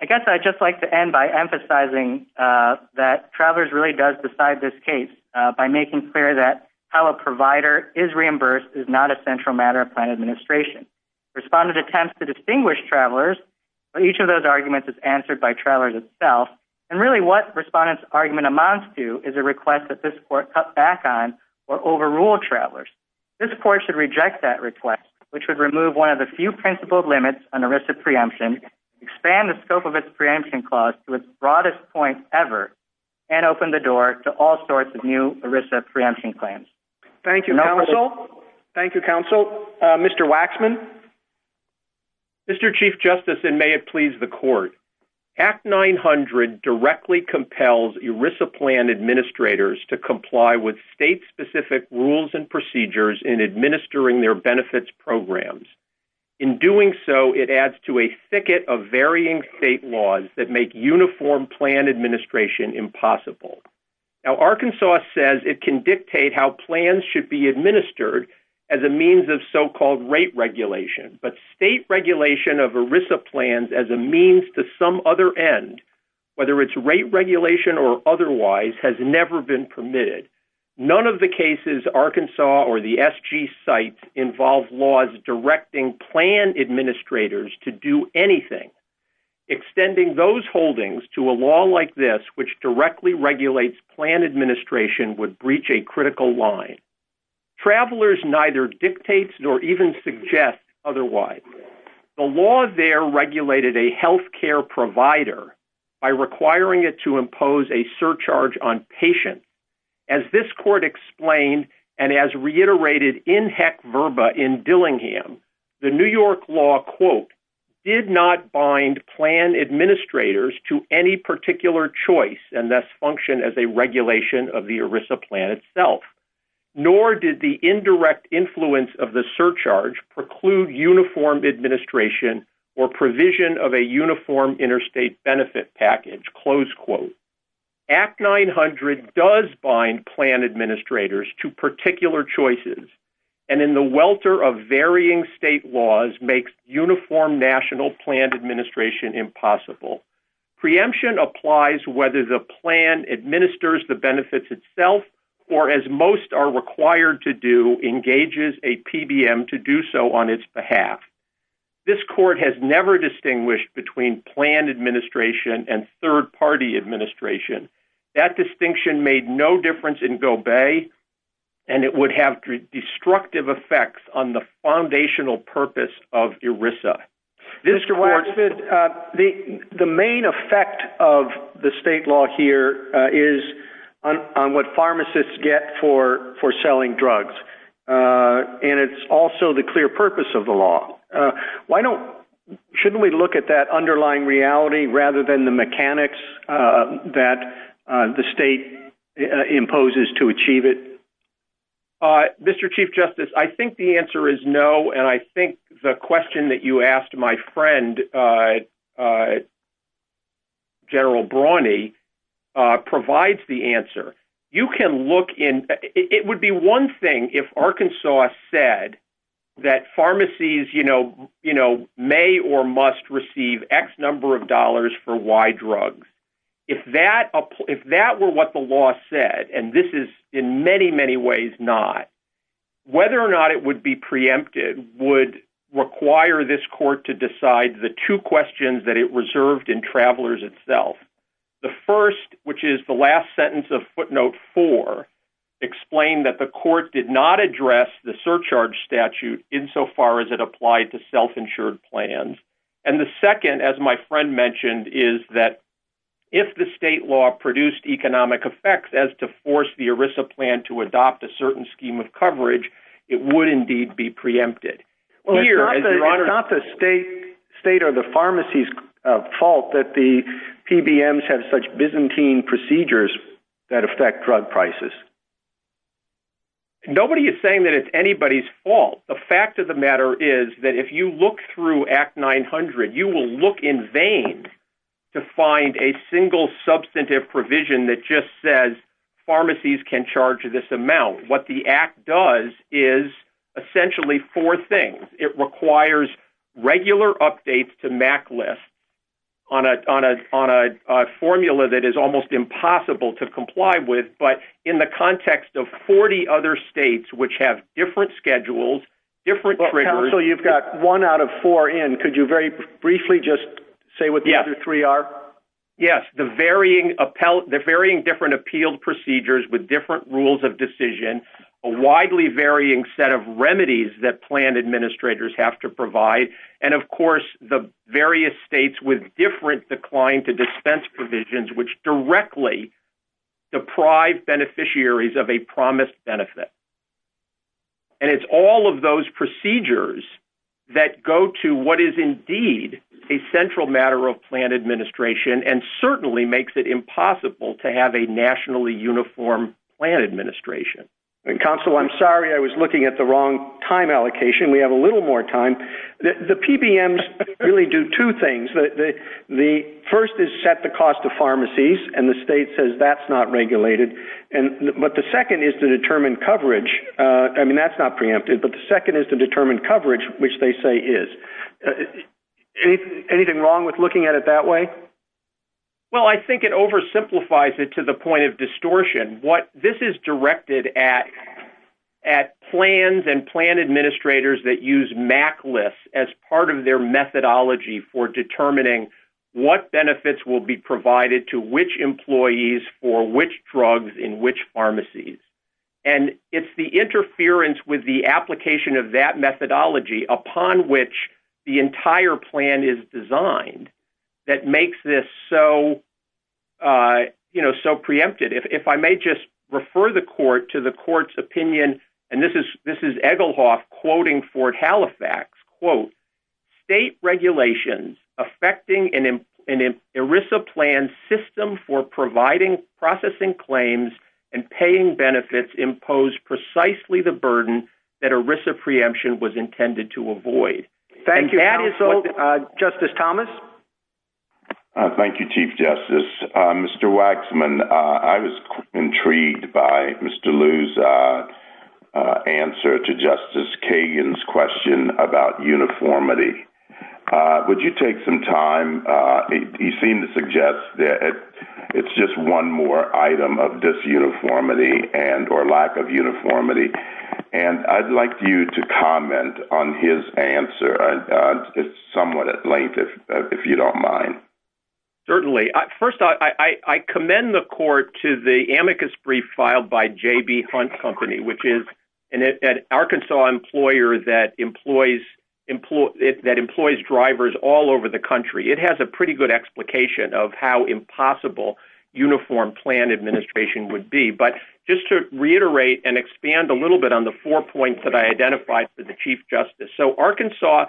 I guess I'd just like to end by emphasizing that Travelers really does decide this case by making clear that how a provider is reimbursed is not a central matter of plan administration. Respondent attempts to distinguish Travelers, but each of those arguments is answered by Travelers itself. And really what Respondent's argument amounts to is a request that this court cut back on or overrule Travelers. This court should reject that request, which would remove one of the few principled limits on a RISA preemption, expand the scope of its preemption clause to its broadest point ever, and open the door to all sorts of new RISA preemption plans. Thank you, Counsel. Thank you, Counsel. Mr. Waxman. Mr. Chief Justice, and may it please the court, Act 900 directly compels RISA plan administrators to comply with state-specific rules and procedures in administering their benefits programs. In doing so, it adds to a thicket of varying state laws that make uniform plan administration impossible. Now, Arkansas says it can dictate how plans should be administered as a means of so-called rate regulation, but state regulation of RISA plans as a means to some other end, whether it's rate regulation or otherwise, has never been permitted. None of the cases Arkansas or the SG cites involve laws directing plan administrators to do anything. Extending those holdings to a law like this, which directly regulates plan administration, would breach a critical line. Travelers neither dictate nor even suggest otherwise. The law there regulated a health care provider by requiring it to impose a surcharge on patients. As this court explained, and as reiterated in heck verba in Dillingham, the New York law, quote, did not bind plan administrators to any particular choice and thus function as a regulation of the RISA plan itself. Nor did the indirect influence of the surcharge preclude uniformed administration or provision of a uniform interstate benefit package, close quote. Act 900 does bind plan administrators to particular choices. And in the welter of varying state laws makes uniform national plan administration impossible. Preemption applies whether the plan administers the benefits itself or as most are required to do, engages a PBM to do so on its behalf. This court has never distinguished between plan administration and third party administration. That distinction made no difference in Gobe and it would have destructive effects on the foundational purpose of ERISA. The main effect of the state law here is on what pharmacists get for selling drugs. And it's also the clear purpose of the law. Why don't, shouldn't we look at that underlying reality rather than the mechanics that the state imposes to achieve it? Mr. Chief Justice, I think the answer is no. And I think the question that you asked my friend, General Brawny, provides the answer. You can look in, it would be one thing if Arkansas said that pharmacies, you know, may or must receive X number of dollars for Y drugs. If that were what the law said, and this is in many, many ways not, whether or not it would be preempted would require this court to decide the two questions that it reserved in Travelers itself. The first, which is the last sentence of footnote four, explained that the court did not address the surcharge statute insofar as it applied to self-insured plans. And the second, as my friend mentioned, is that if the state law produced economic effects as to force the ERISA plan to adopt a certain scheme of coverage, it would indeed be preempted. Well, it's not the state or the pharmacy's fault that the PBMs have such Byzantine procedures that affect drug prices. Nobody is saying that it's anybody's fault. The fact of the matter is that if you look through Act 900, you will look in vain to find a single substantive provision that just says pharmacies can charge this amount. So what the Act does is essentially four things. It requires regular updates to MAC lists on a formula that is almost impossible to comply with, but in the context of 40 other states which have different schedules, different triggers. Counsel, you've got one out of four in. Could you very briefly just say what the other three are? Yes, the varying different appealed procedures with different rules of decision, a widely varying set of remedies that plan administrators have to provide, and of course the various states with different decline to dispense provisions which directly deprive beneficiaries of a promised benefit. And it's all of those procedures that go to what is indeed a central matter of plan administration and certainly makes it impossible to have a nationally uniform plan administration. Counsel, I'm sorry I was looking at the wrong time allocation. We have a little more time. The PBMs really do two things. The first is set the cost of pharmacies, and the state says that's not regulated. But the second is to determine coverage. I mean, that's not preempted, but the second is to determine coverage, which they say is. Anything wrong with looking at it that way? Well, I think it oversimplifies it to the point of distortion. This is directed at plans and plan administrators that use MAC lists as part of their methodology for determining what benefits will be provided to which employees for which drugs in which pharmacies. And it's the interference with the application of that methodology upon which the entire plan is designed that makes this so preempted. If I may just refer the court to the court's opinion, and this is Egelhoff quoting Ford Halifax, quote, state regulations affecting an ERISA plan system for providing processing claims and paying benefits impose precisely the burden that ERISA preemption was intended to avoid. Justice Thomas? Thank you, Chief Justice. Mr. Waxman, I was intrigued by Mr. Liu's answer to Justice Kagan's question about uniformity. Would you take some time? He seemed to suggest that it's just one more item of disuniformity and or lack of uniformity. And I'd like you to comment on his answer. It's somewhat at length, if you don't mind. Certainly. First, I commend the court to the amicus brief filed by J.B. Hunt Company, which is an Arkansas employer that employs drivers all over the country. It has a pretty good explication of how impossible uniform plan administration would be. But just to reiterate and expand a little bit on the four points that I identified for the Chief Justice. So Arkansas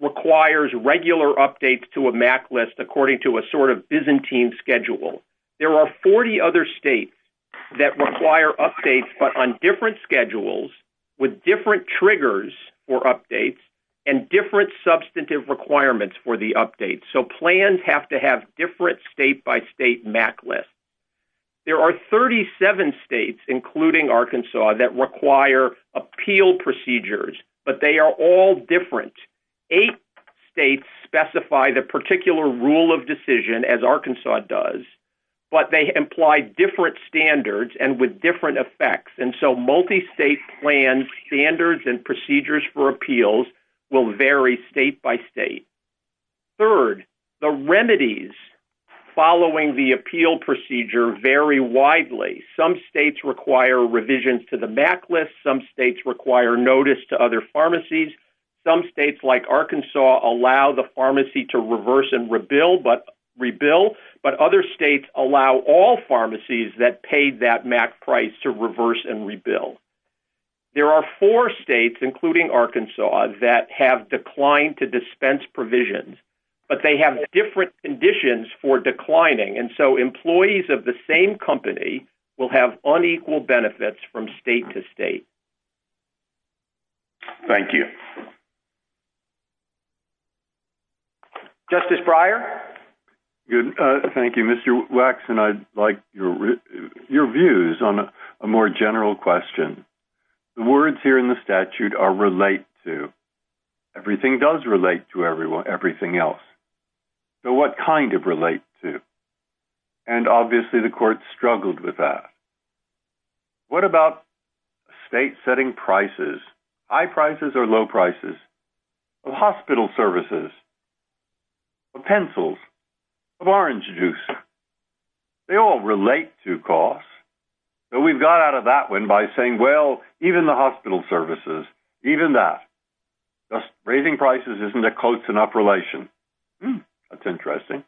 requires regular updates to a MAC list according to a sort of Byzantine schedule. There are 40 other states that require updates, but on different schedules with different triggers for updates and different substantive requirements for the updates. So plans have to have different state by state MAC lists. There are 37 states, including Arkansas, that require appeal procedures. But they are all different. Eight states specify the particular rule of decision, as Arkansas does. But they imply different standards and with different effects. And so multi-state plan standards and procedures for appeals will vary state by state. Third, the remedies following the appeal procedure vary widely. Some states require revisions to the MAC list. Some states require notice to other pharmacies. Some states, like Arkansas, allow the pharmacy to reverse and rebuild. But other states allow all pharmacies that paid that MAC price to reverse and rebuild. There are four states, including Arkansas, that have declined to dispense provisions. But they have different conditions for declining. And so employees of the same company will have unequal benefits from state to state. Thank you. Justice Breyer? Thank you, Mr. Waxman. I'd like your views on a more general question. The words here in the statute are relate to. Everything does relate to everything else. So what kind of relate to? And obviously the court struggled with that. What about state setting prices? High prices or low prices? Of hospital services. Of pencils. Of orange juice. They all relate to costs. So we've got out of that one by saying, well, even the hospital services. Even that. Raising prices isn't a close enough relation. That's interesting.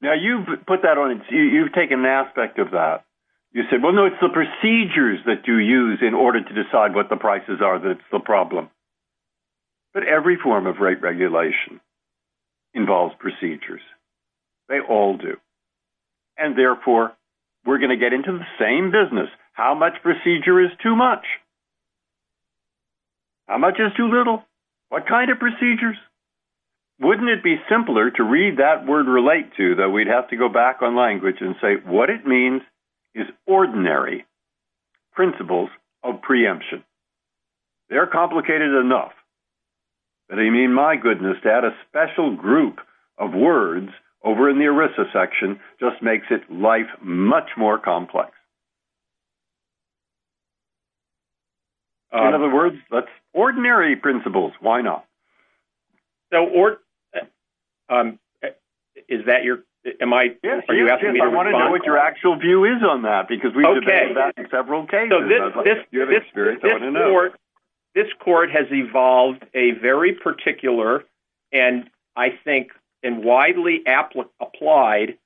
Now you put that on. You've taken an aspect of that. You said, well, no, it's the procedures that you use in order to decide what the prices are. That's the problem. But every form of rate regulation involves procedures. They all do. And therefore, we're going to get into the same business. How much procedure is too much? How much is too little? What kind of procedures? Wouldn't it be simpler to read that word relate to that? We'd have to go back on language and say what it means is ordinary. Principles of preemption. They're complicated enough. And I mean, my goodness, that a special group of words over in the Arisa section just makes it life much more complex. In other words, that's ordinary principles. Why not? So, or is that your. Am I. I want to know what your actual view is on that because we. Several cases. This court has evolved a very particular. And I think in widely applied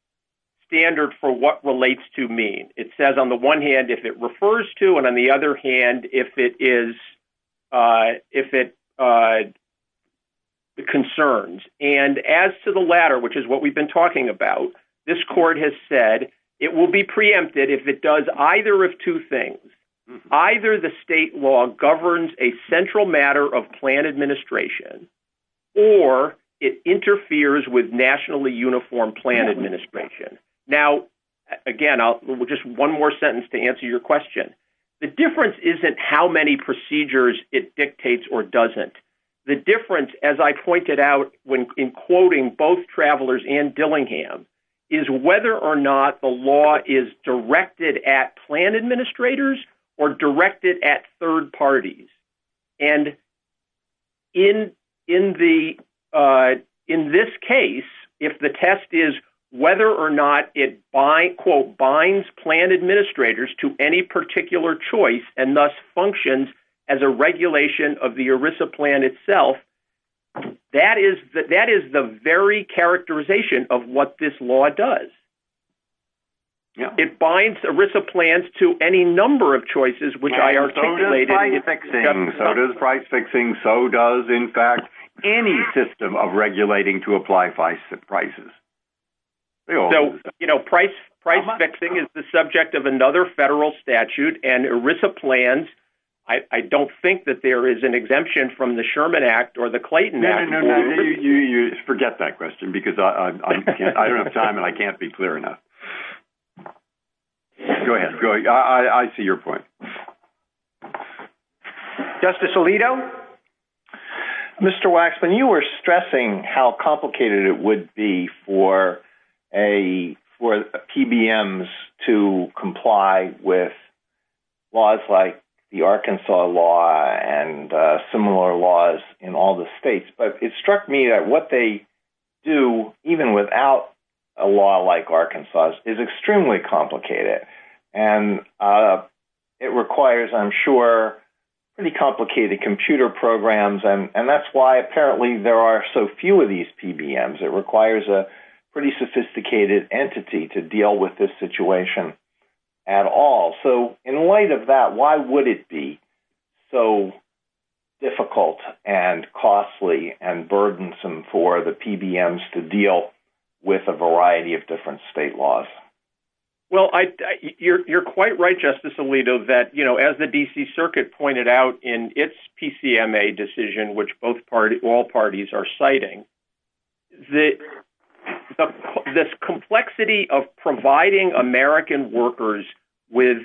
standard for what relates to me. It says on the one hand, if it refers to and on the other hand, if it is, if it. The concerns and as to the latter, which is what we've been talking about. This court has said it will be preempted if it does either of two things. Either the state law governs a central matter of plan administration. Or it interferes with nationally uniform plan administration. Now, again, I'll just one more sentence to answer your question. The difference isn't how many procedures it dictates or doesn't. The difference, as I pointed out when in quoting both travelers and Dillingham is whether or not the law is directed at plan administrators or directed at third parties. And in, in the, in this case, if the test is whether or not it by quote binds plan administrators to any particular choice, and thus functions as a regulation of the ERISA plan itself. That is that that is the very characterization of what this law does. It binds ERISA plans to any number of choices, which I articulated. So does price fixing. So does price fixing. So does, in fact, any system of regulating to apply prices. So, you know, price, price fixing is the subject of another federal statute and ERISA plans. I don't think that there is an exemption from the Sherman Act or the Clayton Act. Forget that question because I don't have time and I can't be clear enough. Go ahead. I see your point. Justice Alito. Mr. Waxman, you were stressing how complicated it would be for a, for PBMs to comply with laws like the Arkansas law and similar laws in all the states. But it struck me that what they do, even without a law like Arkansas is extremely complicated. And it requires, I'm sure, pretty complicated computer programs. And that's why apparently there are so few of these PBMs. It requires a pretty sophisticated entity to deal with this situation at all. So in light of that, why would it be so difficult and costly and burdensome for the PBMs to deal with a variety of different state laws? Well, you're quite right, Justice Alito, that, you know, as the D.C. Circuit pointed out in its PCMA decision, which both parties, all parties are citing, the complexity of providing American workers with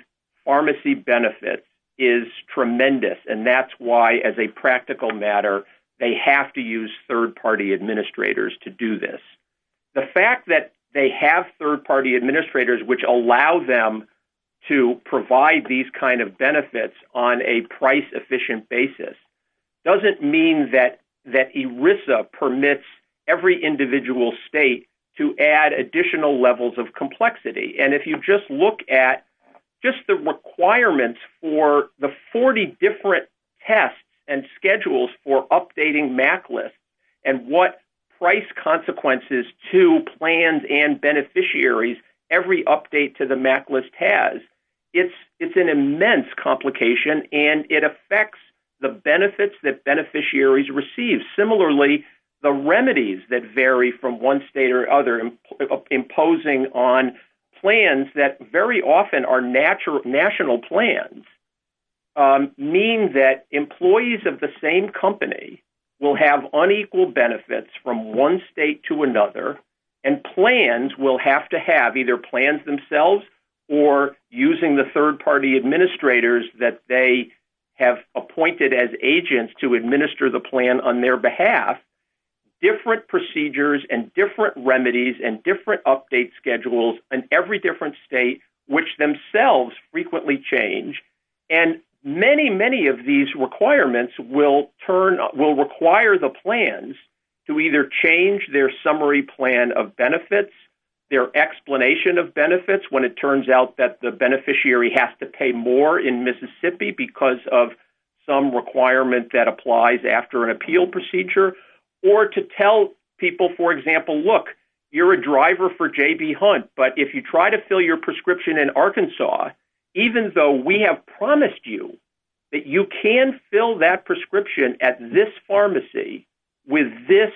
pharmacy benefit is tremendous. And that's why, as a practical matter, they have to use third party administrators to do this. The fact that they have third party administrators which allow them to provide these kind of benefits on a price efficient basis doesn't mean that ERISA permits every individual state to add additional levels of complexity. And if you just look at just the requirements for the 40 different tests and schedules for updating MAC lists and what price consequences to plans and beneficiaries every update to the MAC list has, it's an immense complication and it affects the benefits that beneficiaries receive. And similarly, the remedies that vary from one state or other imposing on plans that very often are national plans mean that employees of the same company will have unequal benefits from one state to another and plans will have to have either plans themselves or using the third party administrators that they have appointed as agents to administer the plan on their behalf, different procedures and different remedies and different update schedules in every different state which themselves frequently change. And many, many of these requirements will turn, will require the plans to either change their summary plan of benefits, their explanation of benefits when it turns out that the beneficiary has to pay more in Mississippi because of some requirement that applies after an appeal procedure, or to tell people, for example, look, you're a driver for J.B. Hunt, but if you try to fill your prescription in Arkansas, even though we have promised you that you can fill that prescription at this pharmacy with this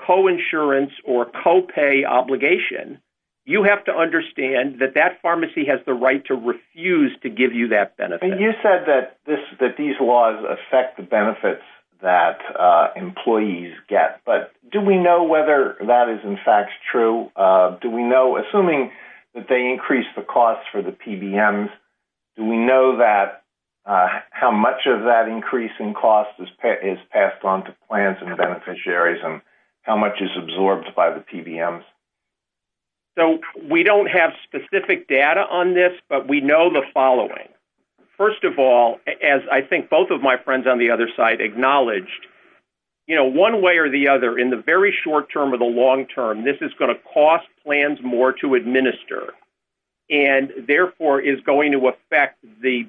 coinsurance or copay obligation, you have to understand that that pharmacy has the right to refuse to give you that benefit. And you said that these laws affect the benefits that employees get, but do we know whether that is in fact true? Do we know, assuming that they increase the cost for the PBMs, do we know that, how much of that increase in cost is passed on to plans and beneficiaries and how much is absorbed by the PBMs? So we don't have specific data on this, but we know the following. First of all, as I think both of my friends on the other side acknowledged, you know, one way or the other, in the very short term or the long term, this is going to cost plans more to administer and therefore is going to affect the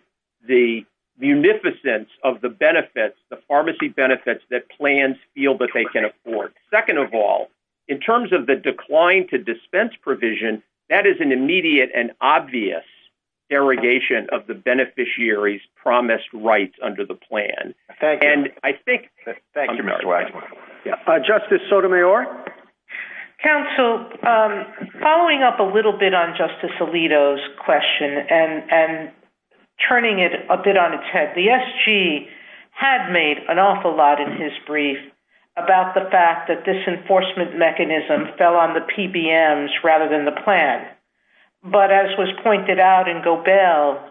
munificence of the benefits, the pharmacy benefits that plans feel that they can afford. Second of all, in terms of the decline to dispense provision, that is an immediate and obvious derogation of the beneficiaries' promised rights under the plan. Thank you. Thank you, Mr. Weiss. Justice Sotomayor? Counsel, following up a little bit on Justice Alito's question and turning it a bit on its head, the SG had made an awful lot in his brief about the fact that this enforcement mechanism fell on the PBMs rather than the plan. But as was pointed out in Gobel,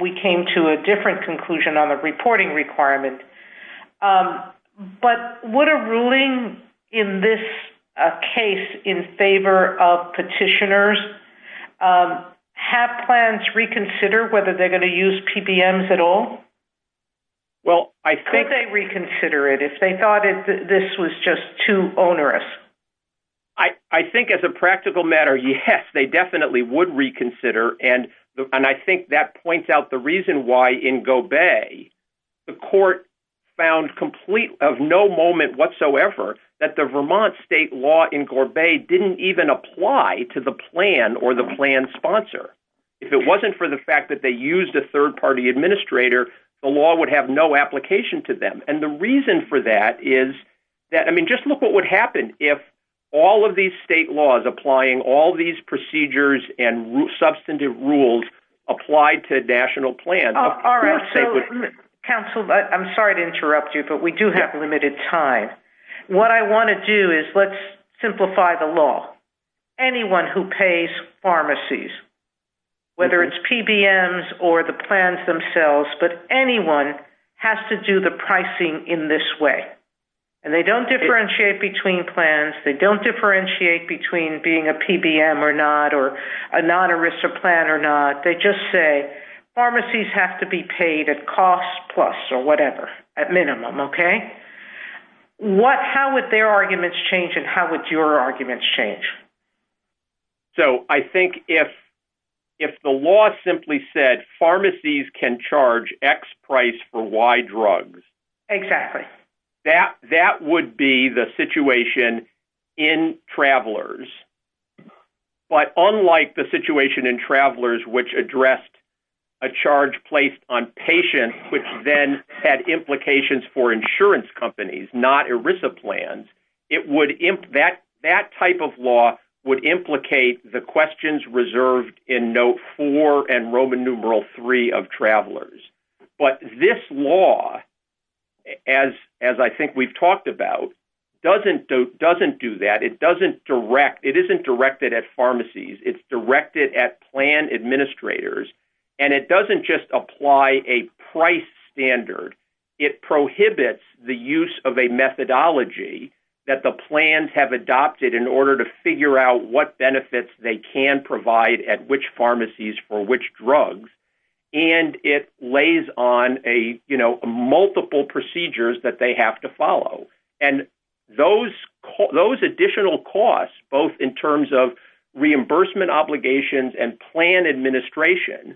we came to a different conclusion on the reporting requirement. But would a ruling in this case in favor of petitioners have plans reconsider whether they're going to use PBMs at all? Could they reconsider it if they thought this was just too onerous? I think as a practical matter, yes, they definitely would reconsider. And I think that points out the reason why in Gobel the court found complete of no moment whatsoever that the Vermont state law in Gobel didn't even apply to the plan or the plan sponsor. If it wasn't for the fact that they used a third-party administrator, the law would have no application to them. And the reason for that is that, I mean, just look what would happen if all of these state laws applying all these procedures and substantive rules applied to national plans. All right. So, counsel, I'm sorry to interrupt you, but we do have limited time. What I want to do is let's simplify the law. Anyone who pays pharmacies, whether it's PBMs or the plans themselves, but anyone has to do the pricing in this way. And they don't differentiate between plans. They don't differentiate between being a PBM or not or a non-ERISA plan or not. They just say pharmacies have to be paid at cost plus or whatever, at minimum, okay? How would their arguments change and how would your arguments change? So, I think if the law simply said pharmacies can charge X price for Y drugs. Exactly. That would be the situation in travelers. But unlike the situation in travelers, which addressed a charge placed on patients, which then had implications for insurance companies, not ERISA plans, that type of law would implicate the questions reserved in note four and Roman numeral three of travelers. But this law, as I think we've talked about, doesn't do that. It doesn't direct. It isn't directed at pharmacies. It's directed at plan administrators. And it doesn't just apply a price standard. It prohibits the use of a methodology that the plans have adopted in order to figure out what benefits they can provide at which pharmacies for which drugs. And it lays on multiple procedures that they have to follow. And those additional costs, both in terms of reimbursement obligations and plan administration,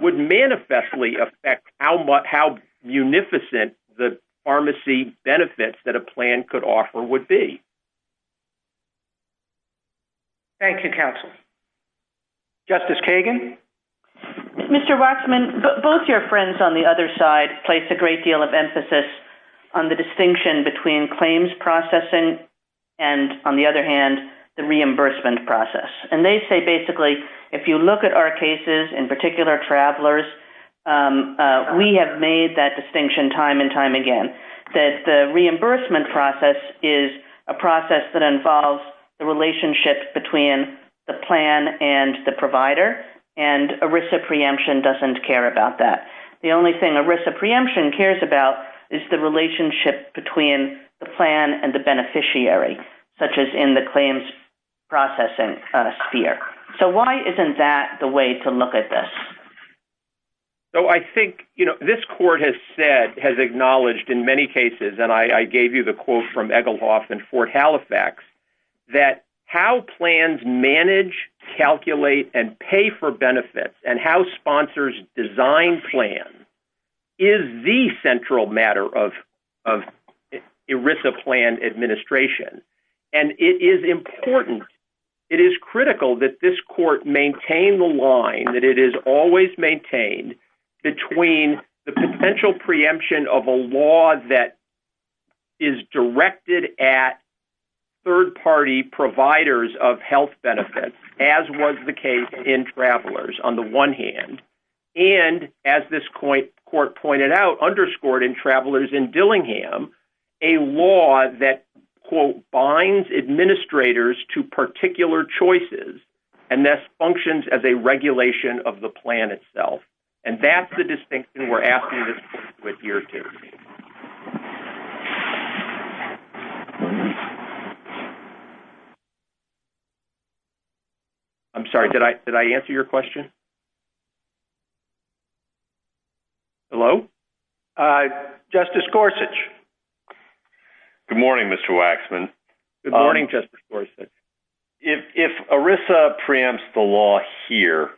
would manifestly affect how munificent the pharmacy benefits that a plan could offer would be. Thank you, counsel. Justice Kagan? Mr. Waksman, both your friends on the other side place a great deal of emphasis on the distinction between claims processing and, on the other hand, the reimbursement process. And they say, basically, if you look at our cases, in particular travelers, we have made that distinction time and time again, that the reimbursement process is a process that involves the relationship between the plan and the provider. And ERISA preemption doesn't care about that. The only thing ERISA preemption cares about is the relationship between the plan and the beneficiary, such as in the claims processing sphere. So why isn't that the way to look at this? So I think, you know, this court has said, has acknowledged in many cases, and I gave you the quote from Egelhoff in Fort Halifax, that how plans manage, calculate, and pay for benefits and how sponsors design plans is the central matter of ERISA plan administration. And it is important, it is critical that this court maintain the line, that it is always maintained, between the potential preemption of a law that is directed at third-party providers of health benefits, as was the case in travelers, on the one hand, and, as this court pointed out, underscored in travelers in Dillingham, a law that, quote, binds administrators to particular choices, and thus functions as a regulation of the plan itself. And that's the distinction we're asking this court to adhere to. I'm sorry, did I answer your question? Hello? Justice Gorsuch. Good morning, Mr. Waxman. Good morning, Justice Gorsuch. If ERISA preempts the law here,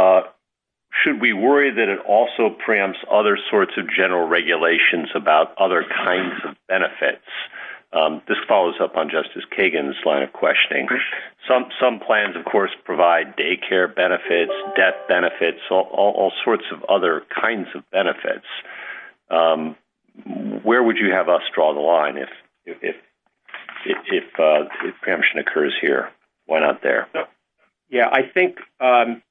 should we worry that it also preempts other sorts of general regulations about other kinds of benefits? Some plans, of course, provide daycare benefits, debt benefits, all sorts of other kinds of benefits. Where would you have us draw the line if preemption occurs here? Why not there? Yeah, I think I'm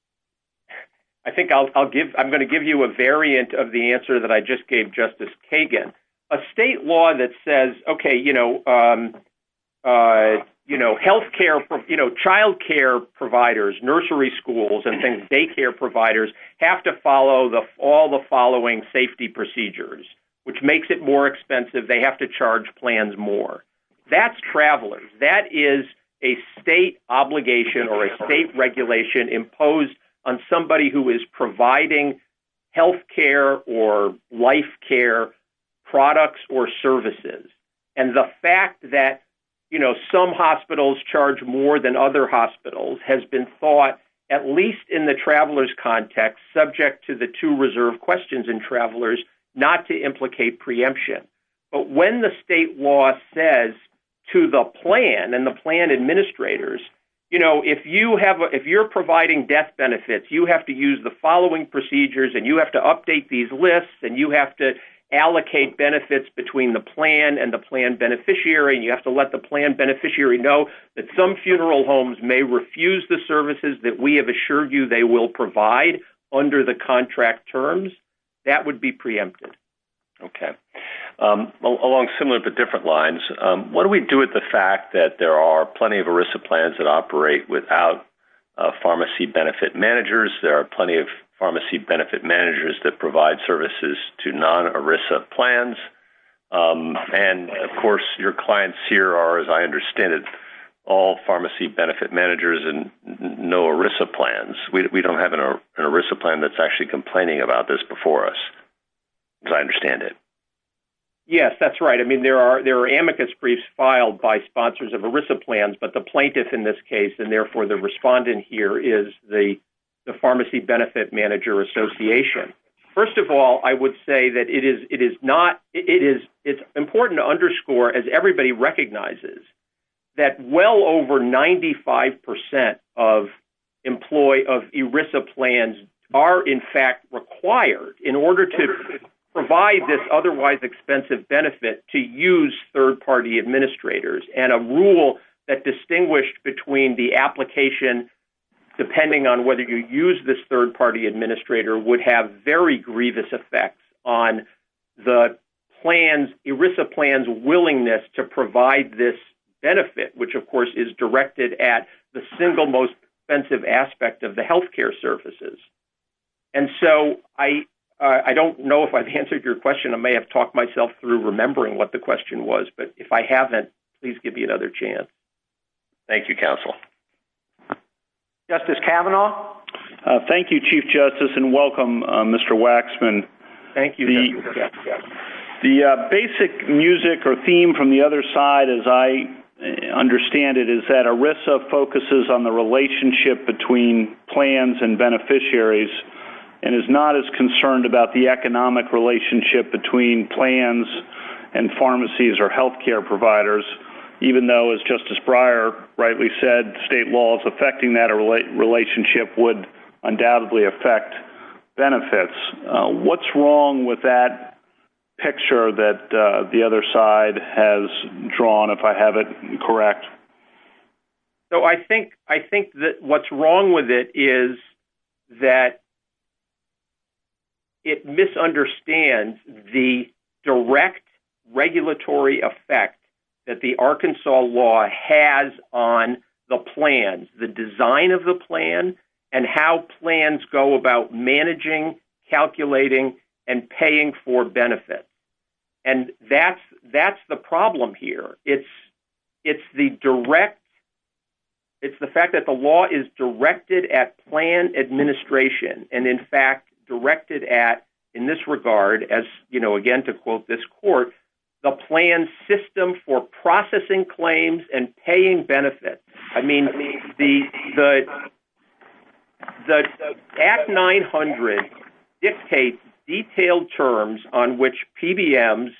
going to give you a variant of the answer that I just gave Justice Kagan. A state law that says, okay, you know, childcare providers, nursery schools, and daycare providers have to follow all the following safety procedures, which makes it more expensive, they have to charge plans more. That's travelers. That is a state obligation or a state regulation imposed on somebody who is providing healthcare or life care products or services. And the fact that, you know, some hospitals charge more than other hospitals has been thought, at least in the travelers context, subject to the two reserve questions in travelers, not to implicate preemption. But when the state law says to the plan and the plan administrators, you know, if you're providing death benefits, you have to use the following procedures, and you have to update these lists, and you have to allocate benefits between the plan and the plan beneficiary, and you have to let the plan beneficiary know that some funeral homes may refuse the services that we have assured you they will provide under the contract terms, that would be preempted. Okay. Along similar but different lines, what do we do with the fact that there are plenty of ERISA plans that operate without pharmacy benefit managers? There are plenty of pharmacy benefit managers that provide services to non-ERISA plans. And, of course, your clients here are, as I understand it, all pharmacy benefit managers and no ERISA plans. We don't have an ERISA plan that's actually complaining about this before us. As I understand it. Yes, that's right. I mean, there are amicus briefs filed by sponsors of ERISA plans, but the plaintiff in this case, and therefore the respondent here, is the pharmacy benefit manager association. First of all, I would say that it is important to underscore, as everybody recognizes, that well over 95% of ERISA plans are, in fact, required in order to provide this otherwise expensive benefit to use third-party administrators. And a rule that distinguished between the application, depending on whether you use this third-party administrator, would have very grievous effects on the ERISA plan's willingness to provide this benefit, which, of course, is directed at the single most expensive aspect of the healthcare services. And so I don't know if I've answered your question. I may have talked myself through remembering what the question was, but if I haven't, please give me another chance. Thank you, counsel. Justice Kavanaugh. Thank you, Chief Justice, and welcome, Mr. Waxman. Thank you. The basic music or theme from the other side, as I understand it, is that ERISA focuses on the relationship between plans and beneficiaries and is not as concerned about the economic relationship between plans and pharmacies or healthcare providers, even though, as Justice Breyer rightly said, state laws affecting that relationship would undoubtedly affect benefits. What's wrong with that picture that the other side has drawn, if I have it correct? So I think that what's wrong with it is that it misunderstands the direct regulatory effect that the Arkansas law has on the plans, the design of the plan, and how plans go about managing, calculating, and paying for benefits. And that's the problem here. It's the fact that the law is directed at plan administration and, in fact, directed at, in this regard, as, again, to quote this court, the plan system for processing claims and paying benefits. I mean, the Act 900 dictates detailed terms on which PBMs,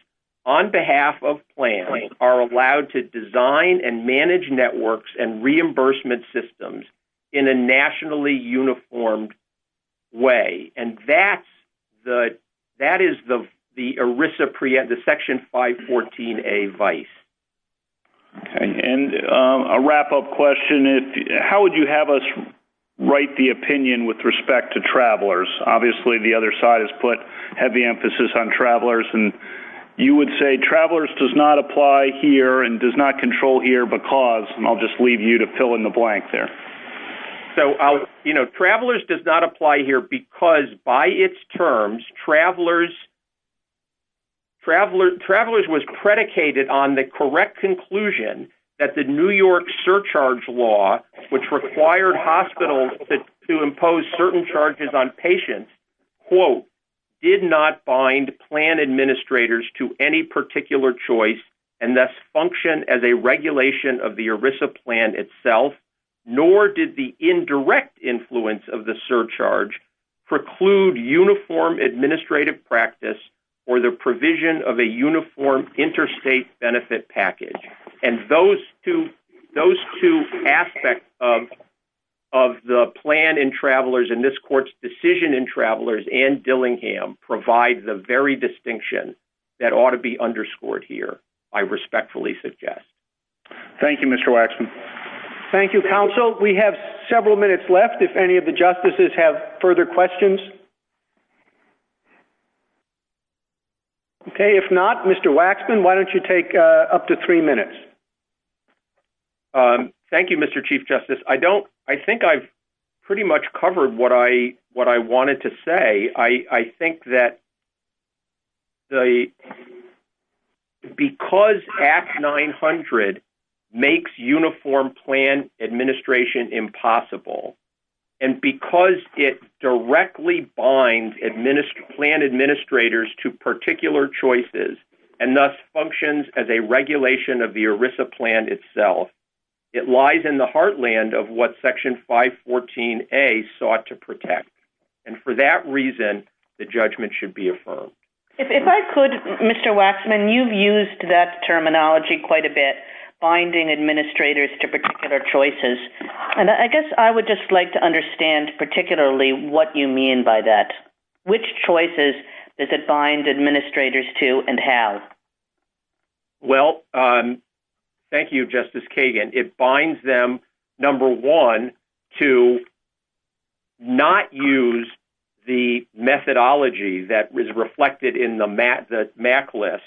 on behalf of plans, are allowed to design and manage networks and reimbursement systems in a nationally uniformed way. And that is the ERISA, the Section 514a vice. And a wrap-up question. How would you have us write the opinion with respect to travelers? Obviously, the other side has put heavy emphasis on travelers. And you would say travelers does not apply here and does not control here because, and I'll just leave you to fill in the blank there. So, you know, travelers does not apply here because, by its terms, travelers was predicated on the correct conclusion that the New York surcharge law, which required hospitals to impose certain charges on patients, quote, did not bind plan administrators to any particular choice and thus function as a regulation of the ERISA plan itself, nor did the indirect influence of the surcharge preclude uniform administrative practice or the provision of a uniform interstate benefit package. And those two aspects of the plan in travelers and this court's decision in travelers and Dillingham provide the very distinction that ought to be underscored here, I respectfully suggest. Thank you, Mr. Waxman. Thank you, counsel. We have several minutes left if any of the justices have further questions. Okay, if not, Mr. Waxman, why don't you take up to three minutes? Thank you, Mr. Chief Justice. I don't, I think I've pretty much covered what I wanted to say. I think that the, because Act 900 makes uniform plan administration impossible, and because it directly binds plan administrators to particular choices and thus functions as a regulation of the ERISA plan itself, it lies in the heartland of what Section 514A sought to protect. And for that reason, the judgment should be affirmed. If I could, Mr. Waxman, you've used that terminology quite a bit, binding administrators to particular choices. And I guess I would just like to understand particularly what you mean by that. Which choices does it bind administrators to and how? Well, thank you, Justice Kagan. It binds them, number one, to not use the methodology that is reflected in the MAC list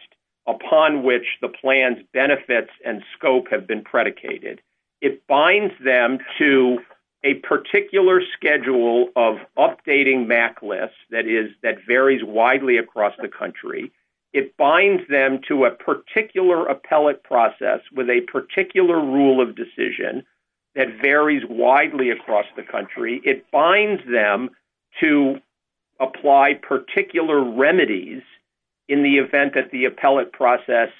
upon which the plan's benefits and scope have been predicated. It binds them to a particular schedule of updating MAC lists that varies widely across the country. It binds them to a particular appellate process with a particular rule of decision that varies widely across the country. It binds them to apply particular remedies in the event that the appellate process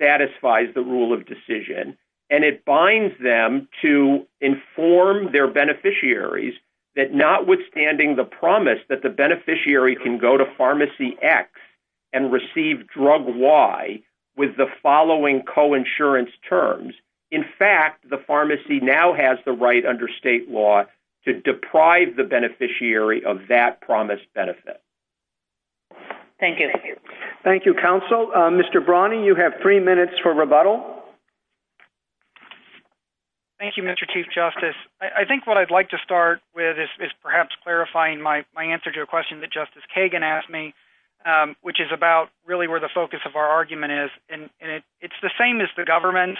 satisfies the rule of decision. And it binds them to inform their beneficiaries that notwithstanding the promise that the beneficiary can go to Pharmacy X and receive Drug Y with the following coinsurance terms, in fact, the pharmacy now has the right under state law to deprive the beneficiary of that promised benefit. Thank you. Thank you, counsel. Mr. Brawny, you have three minutes for rebuttal. Thank you, Mr. Chief Justice. I think what I'd like to start with is perhaps clarifying my answer to a question that Justice Kagan asked me, which is about really where the focus of our argument is. And it's the same as the government.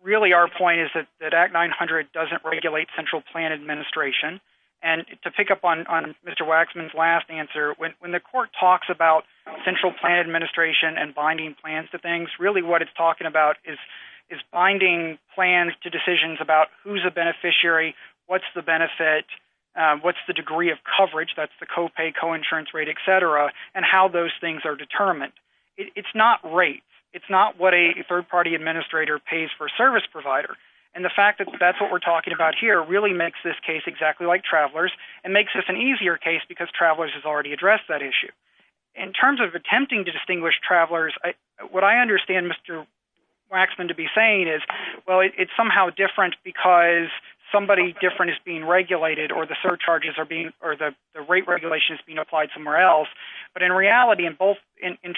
Really, our point is that Act 900 doesn't regulate central plan administration. And to pick up on Mr. Waxman's last answer, when the court talks about central plan administration and binding plans to things, really what it's talking about is binding plans to decisions about who's a beneficiary, what's the benefit, what's the degree of coverage, that's the copay, coinsurance rate, et cetera, and how those things are determined. It's not rates. It's not what a third-party administrator pays for a service provider. And the fact that that's what we're talking about here really makes this case exactly like Travelers and makes this an easier case because Travelers has already addressed that issue. In terms of attempting to distinguish Travelers, what I understand Mr. Waxman to be saying is, well, it's somehow different because somebody different is being regulated or the rate regulation is being applied somewhere else. But in reality, in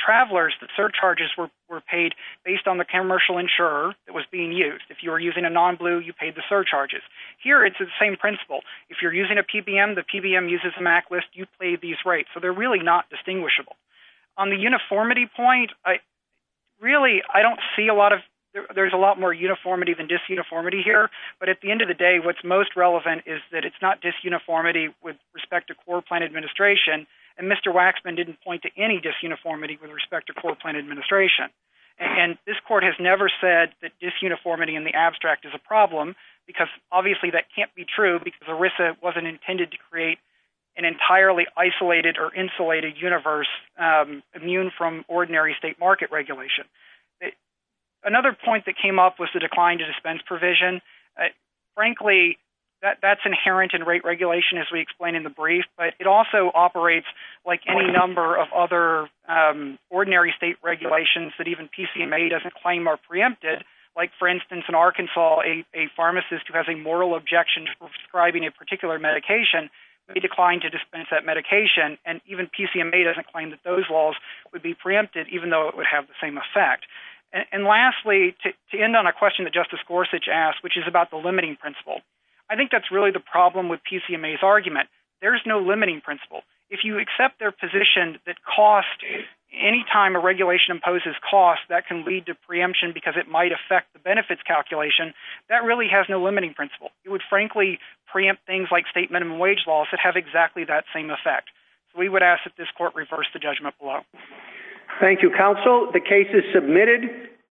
Travelers, the surcharges were paid based on the commercial insurer that was being used. If you were using a non-blue, you paid the surcharges. Here, it's the same principle. If you're using a PBM, the PBM uses a MAC list, you pay these rates. So they're really not distinguishable. On the uniformity point, really, I don't see a lot of – there's a lot more uniformity than disuniformity here. But at the end of the day, what's most relevant is that it's not disuniformity with respect to core plan administration, and Mr. Waxman didn't point to any disuniformity with respect to core plan administration. And this court has never said that disuniformity in the abstract is a problem, because obviously that can't be true because ERISA wasn't intended to create an entirely isolated or insulated universe immune from ordinary state market regulation. Another point that came up was the decline to dispense provision. Frankly, that's inherent in rate regulation, as we explained in the brief, but it also operates like any number of other ordinary state regulations that even PCMA doesn't claim are preempted. Like, for instance, in Arkansas, a pharmacist who has a moral objection to prescribing a particular medication may decline to dispense that medication, and even PCMA doesn't claim that those laws would be preempted, even though it would have the same effect. And lastly, to end on a question that Justice Gorsuch asked, which is about the limiting principle. I think that's really the problem with PCMA's argument. There's no limiting principle. If you accept their position that cost, anytime a regulation imposes cost, that can lead to preemption because it might affect the benefits calculation. That really has no limiting principle. It would, frankly, preempt things like state minimum wage laws that have exactly that same effect. So we would ask that this court reverse the judgment below. Thank you, counsel. The case is submitted.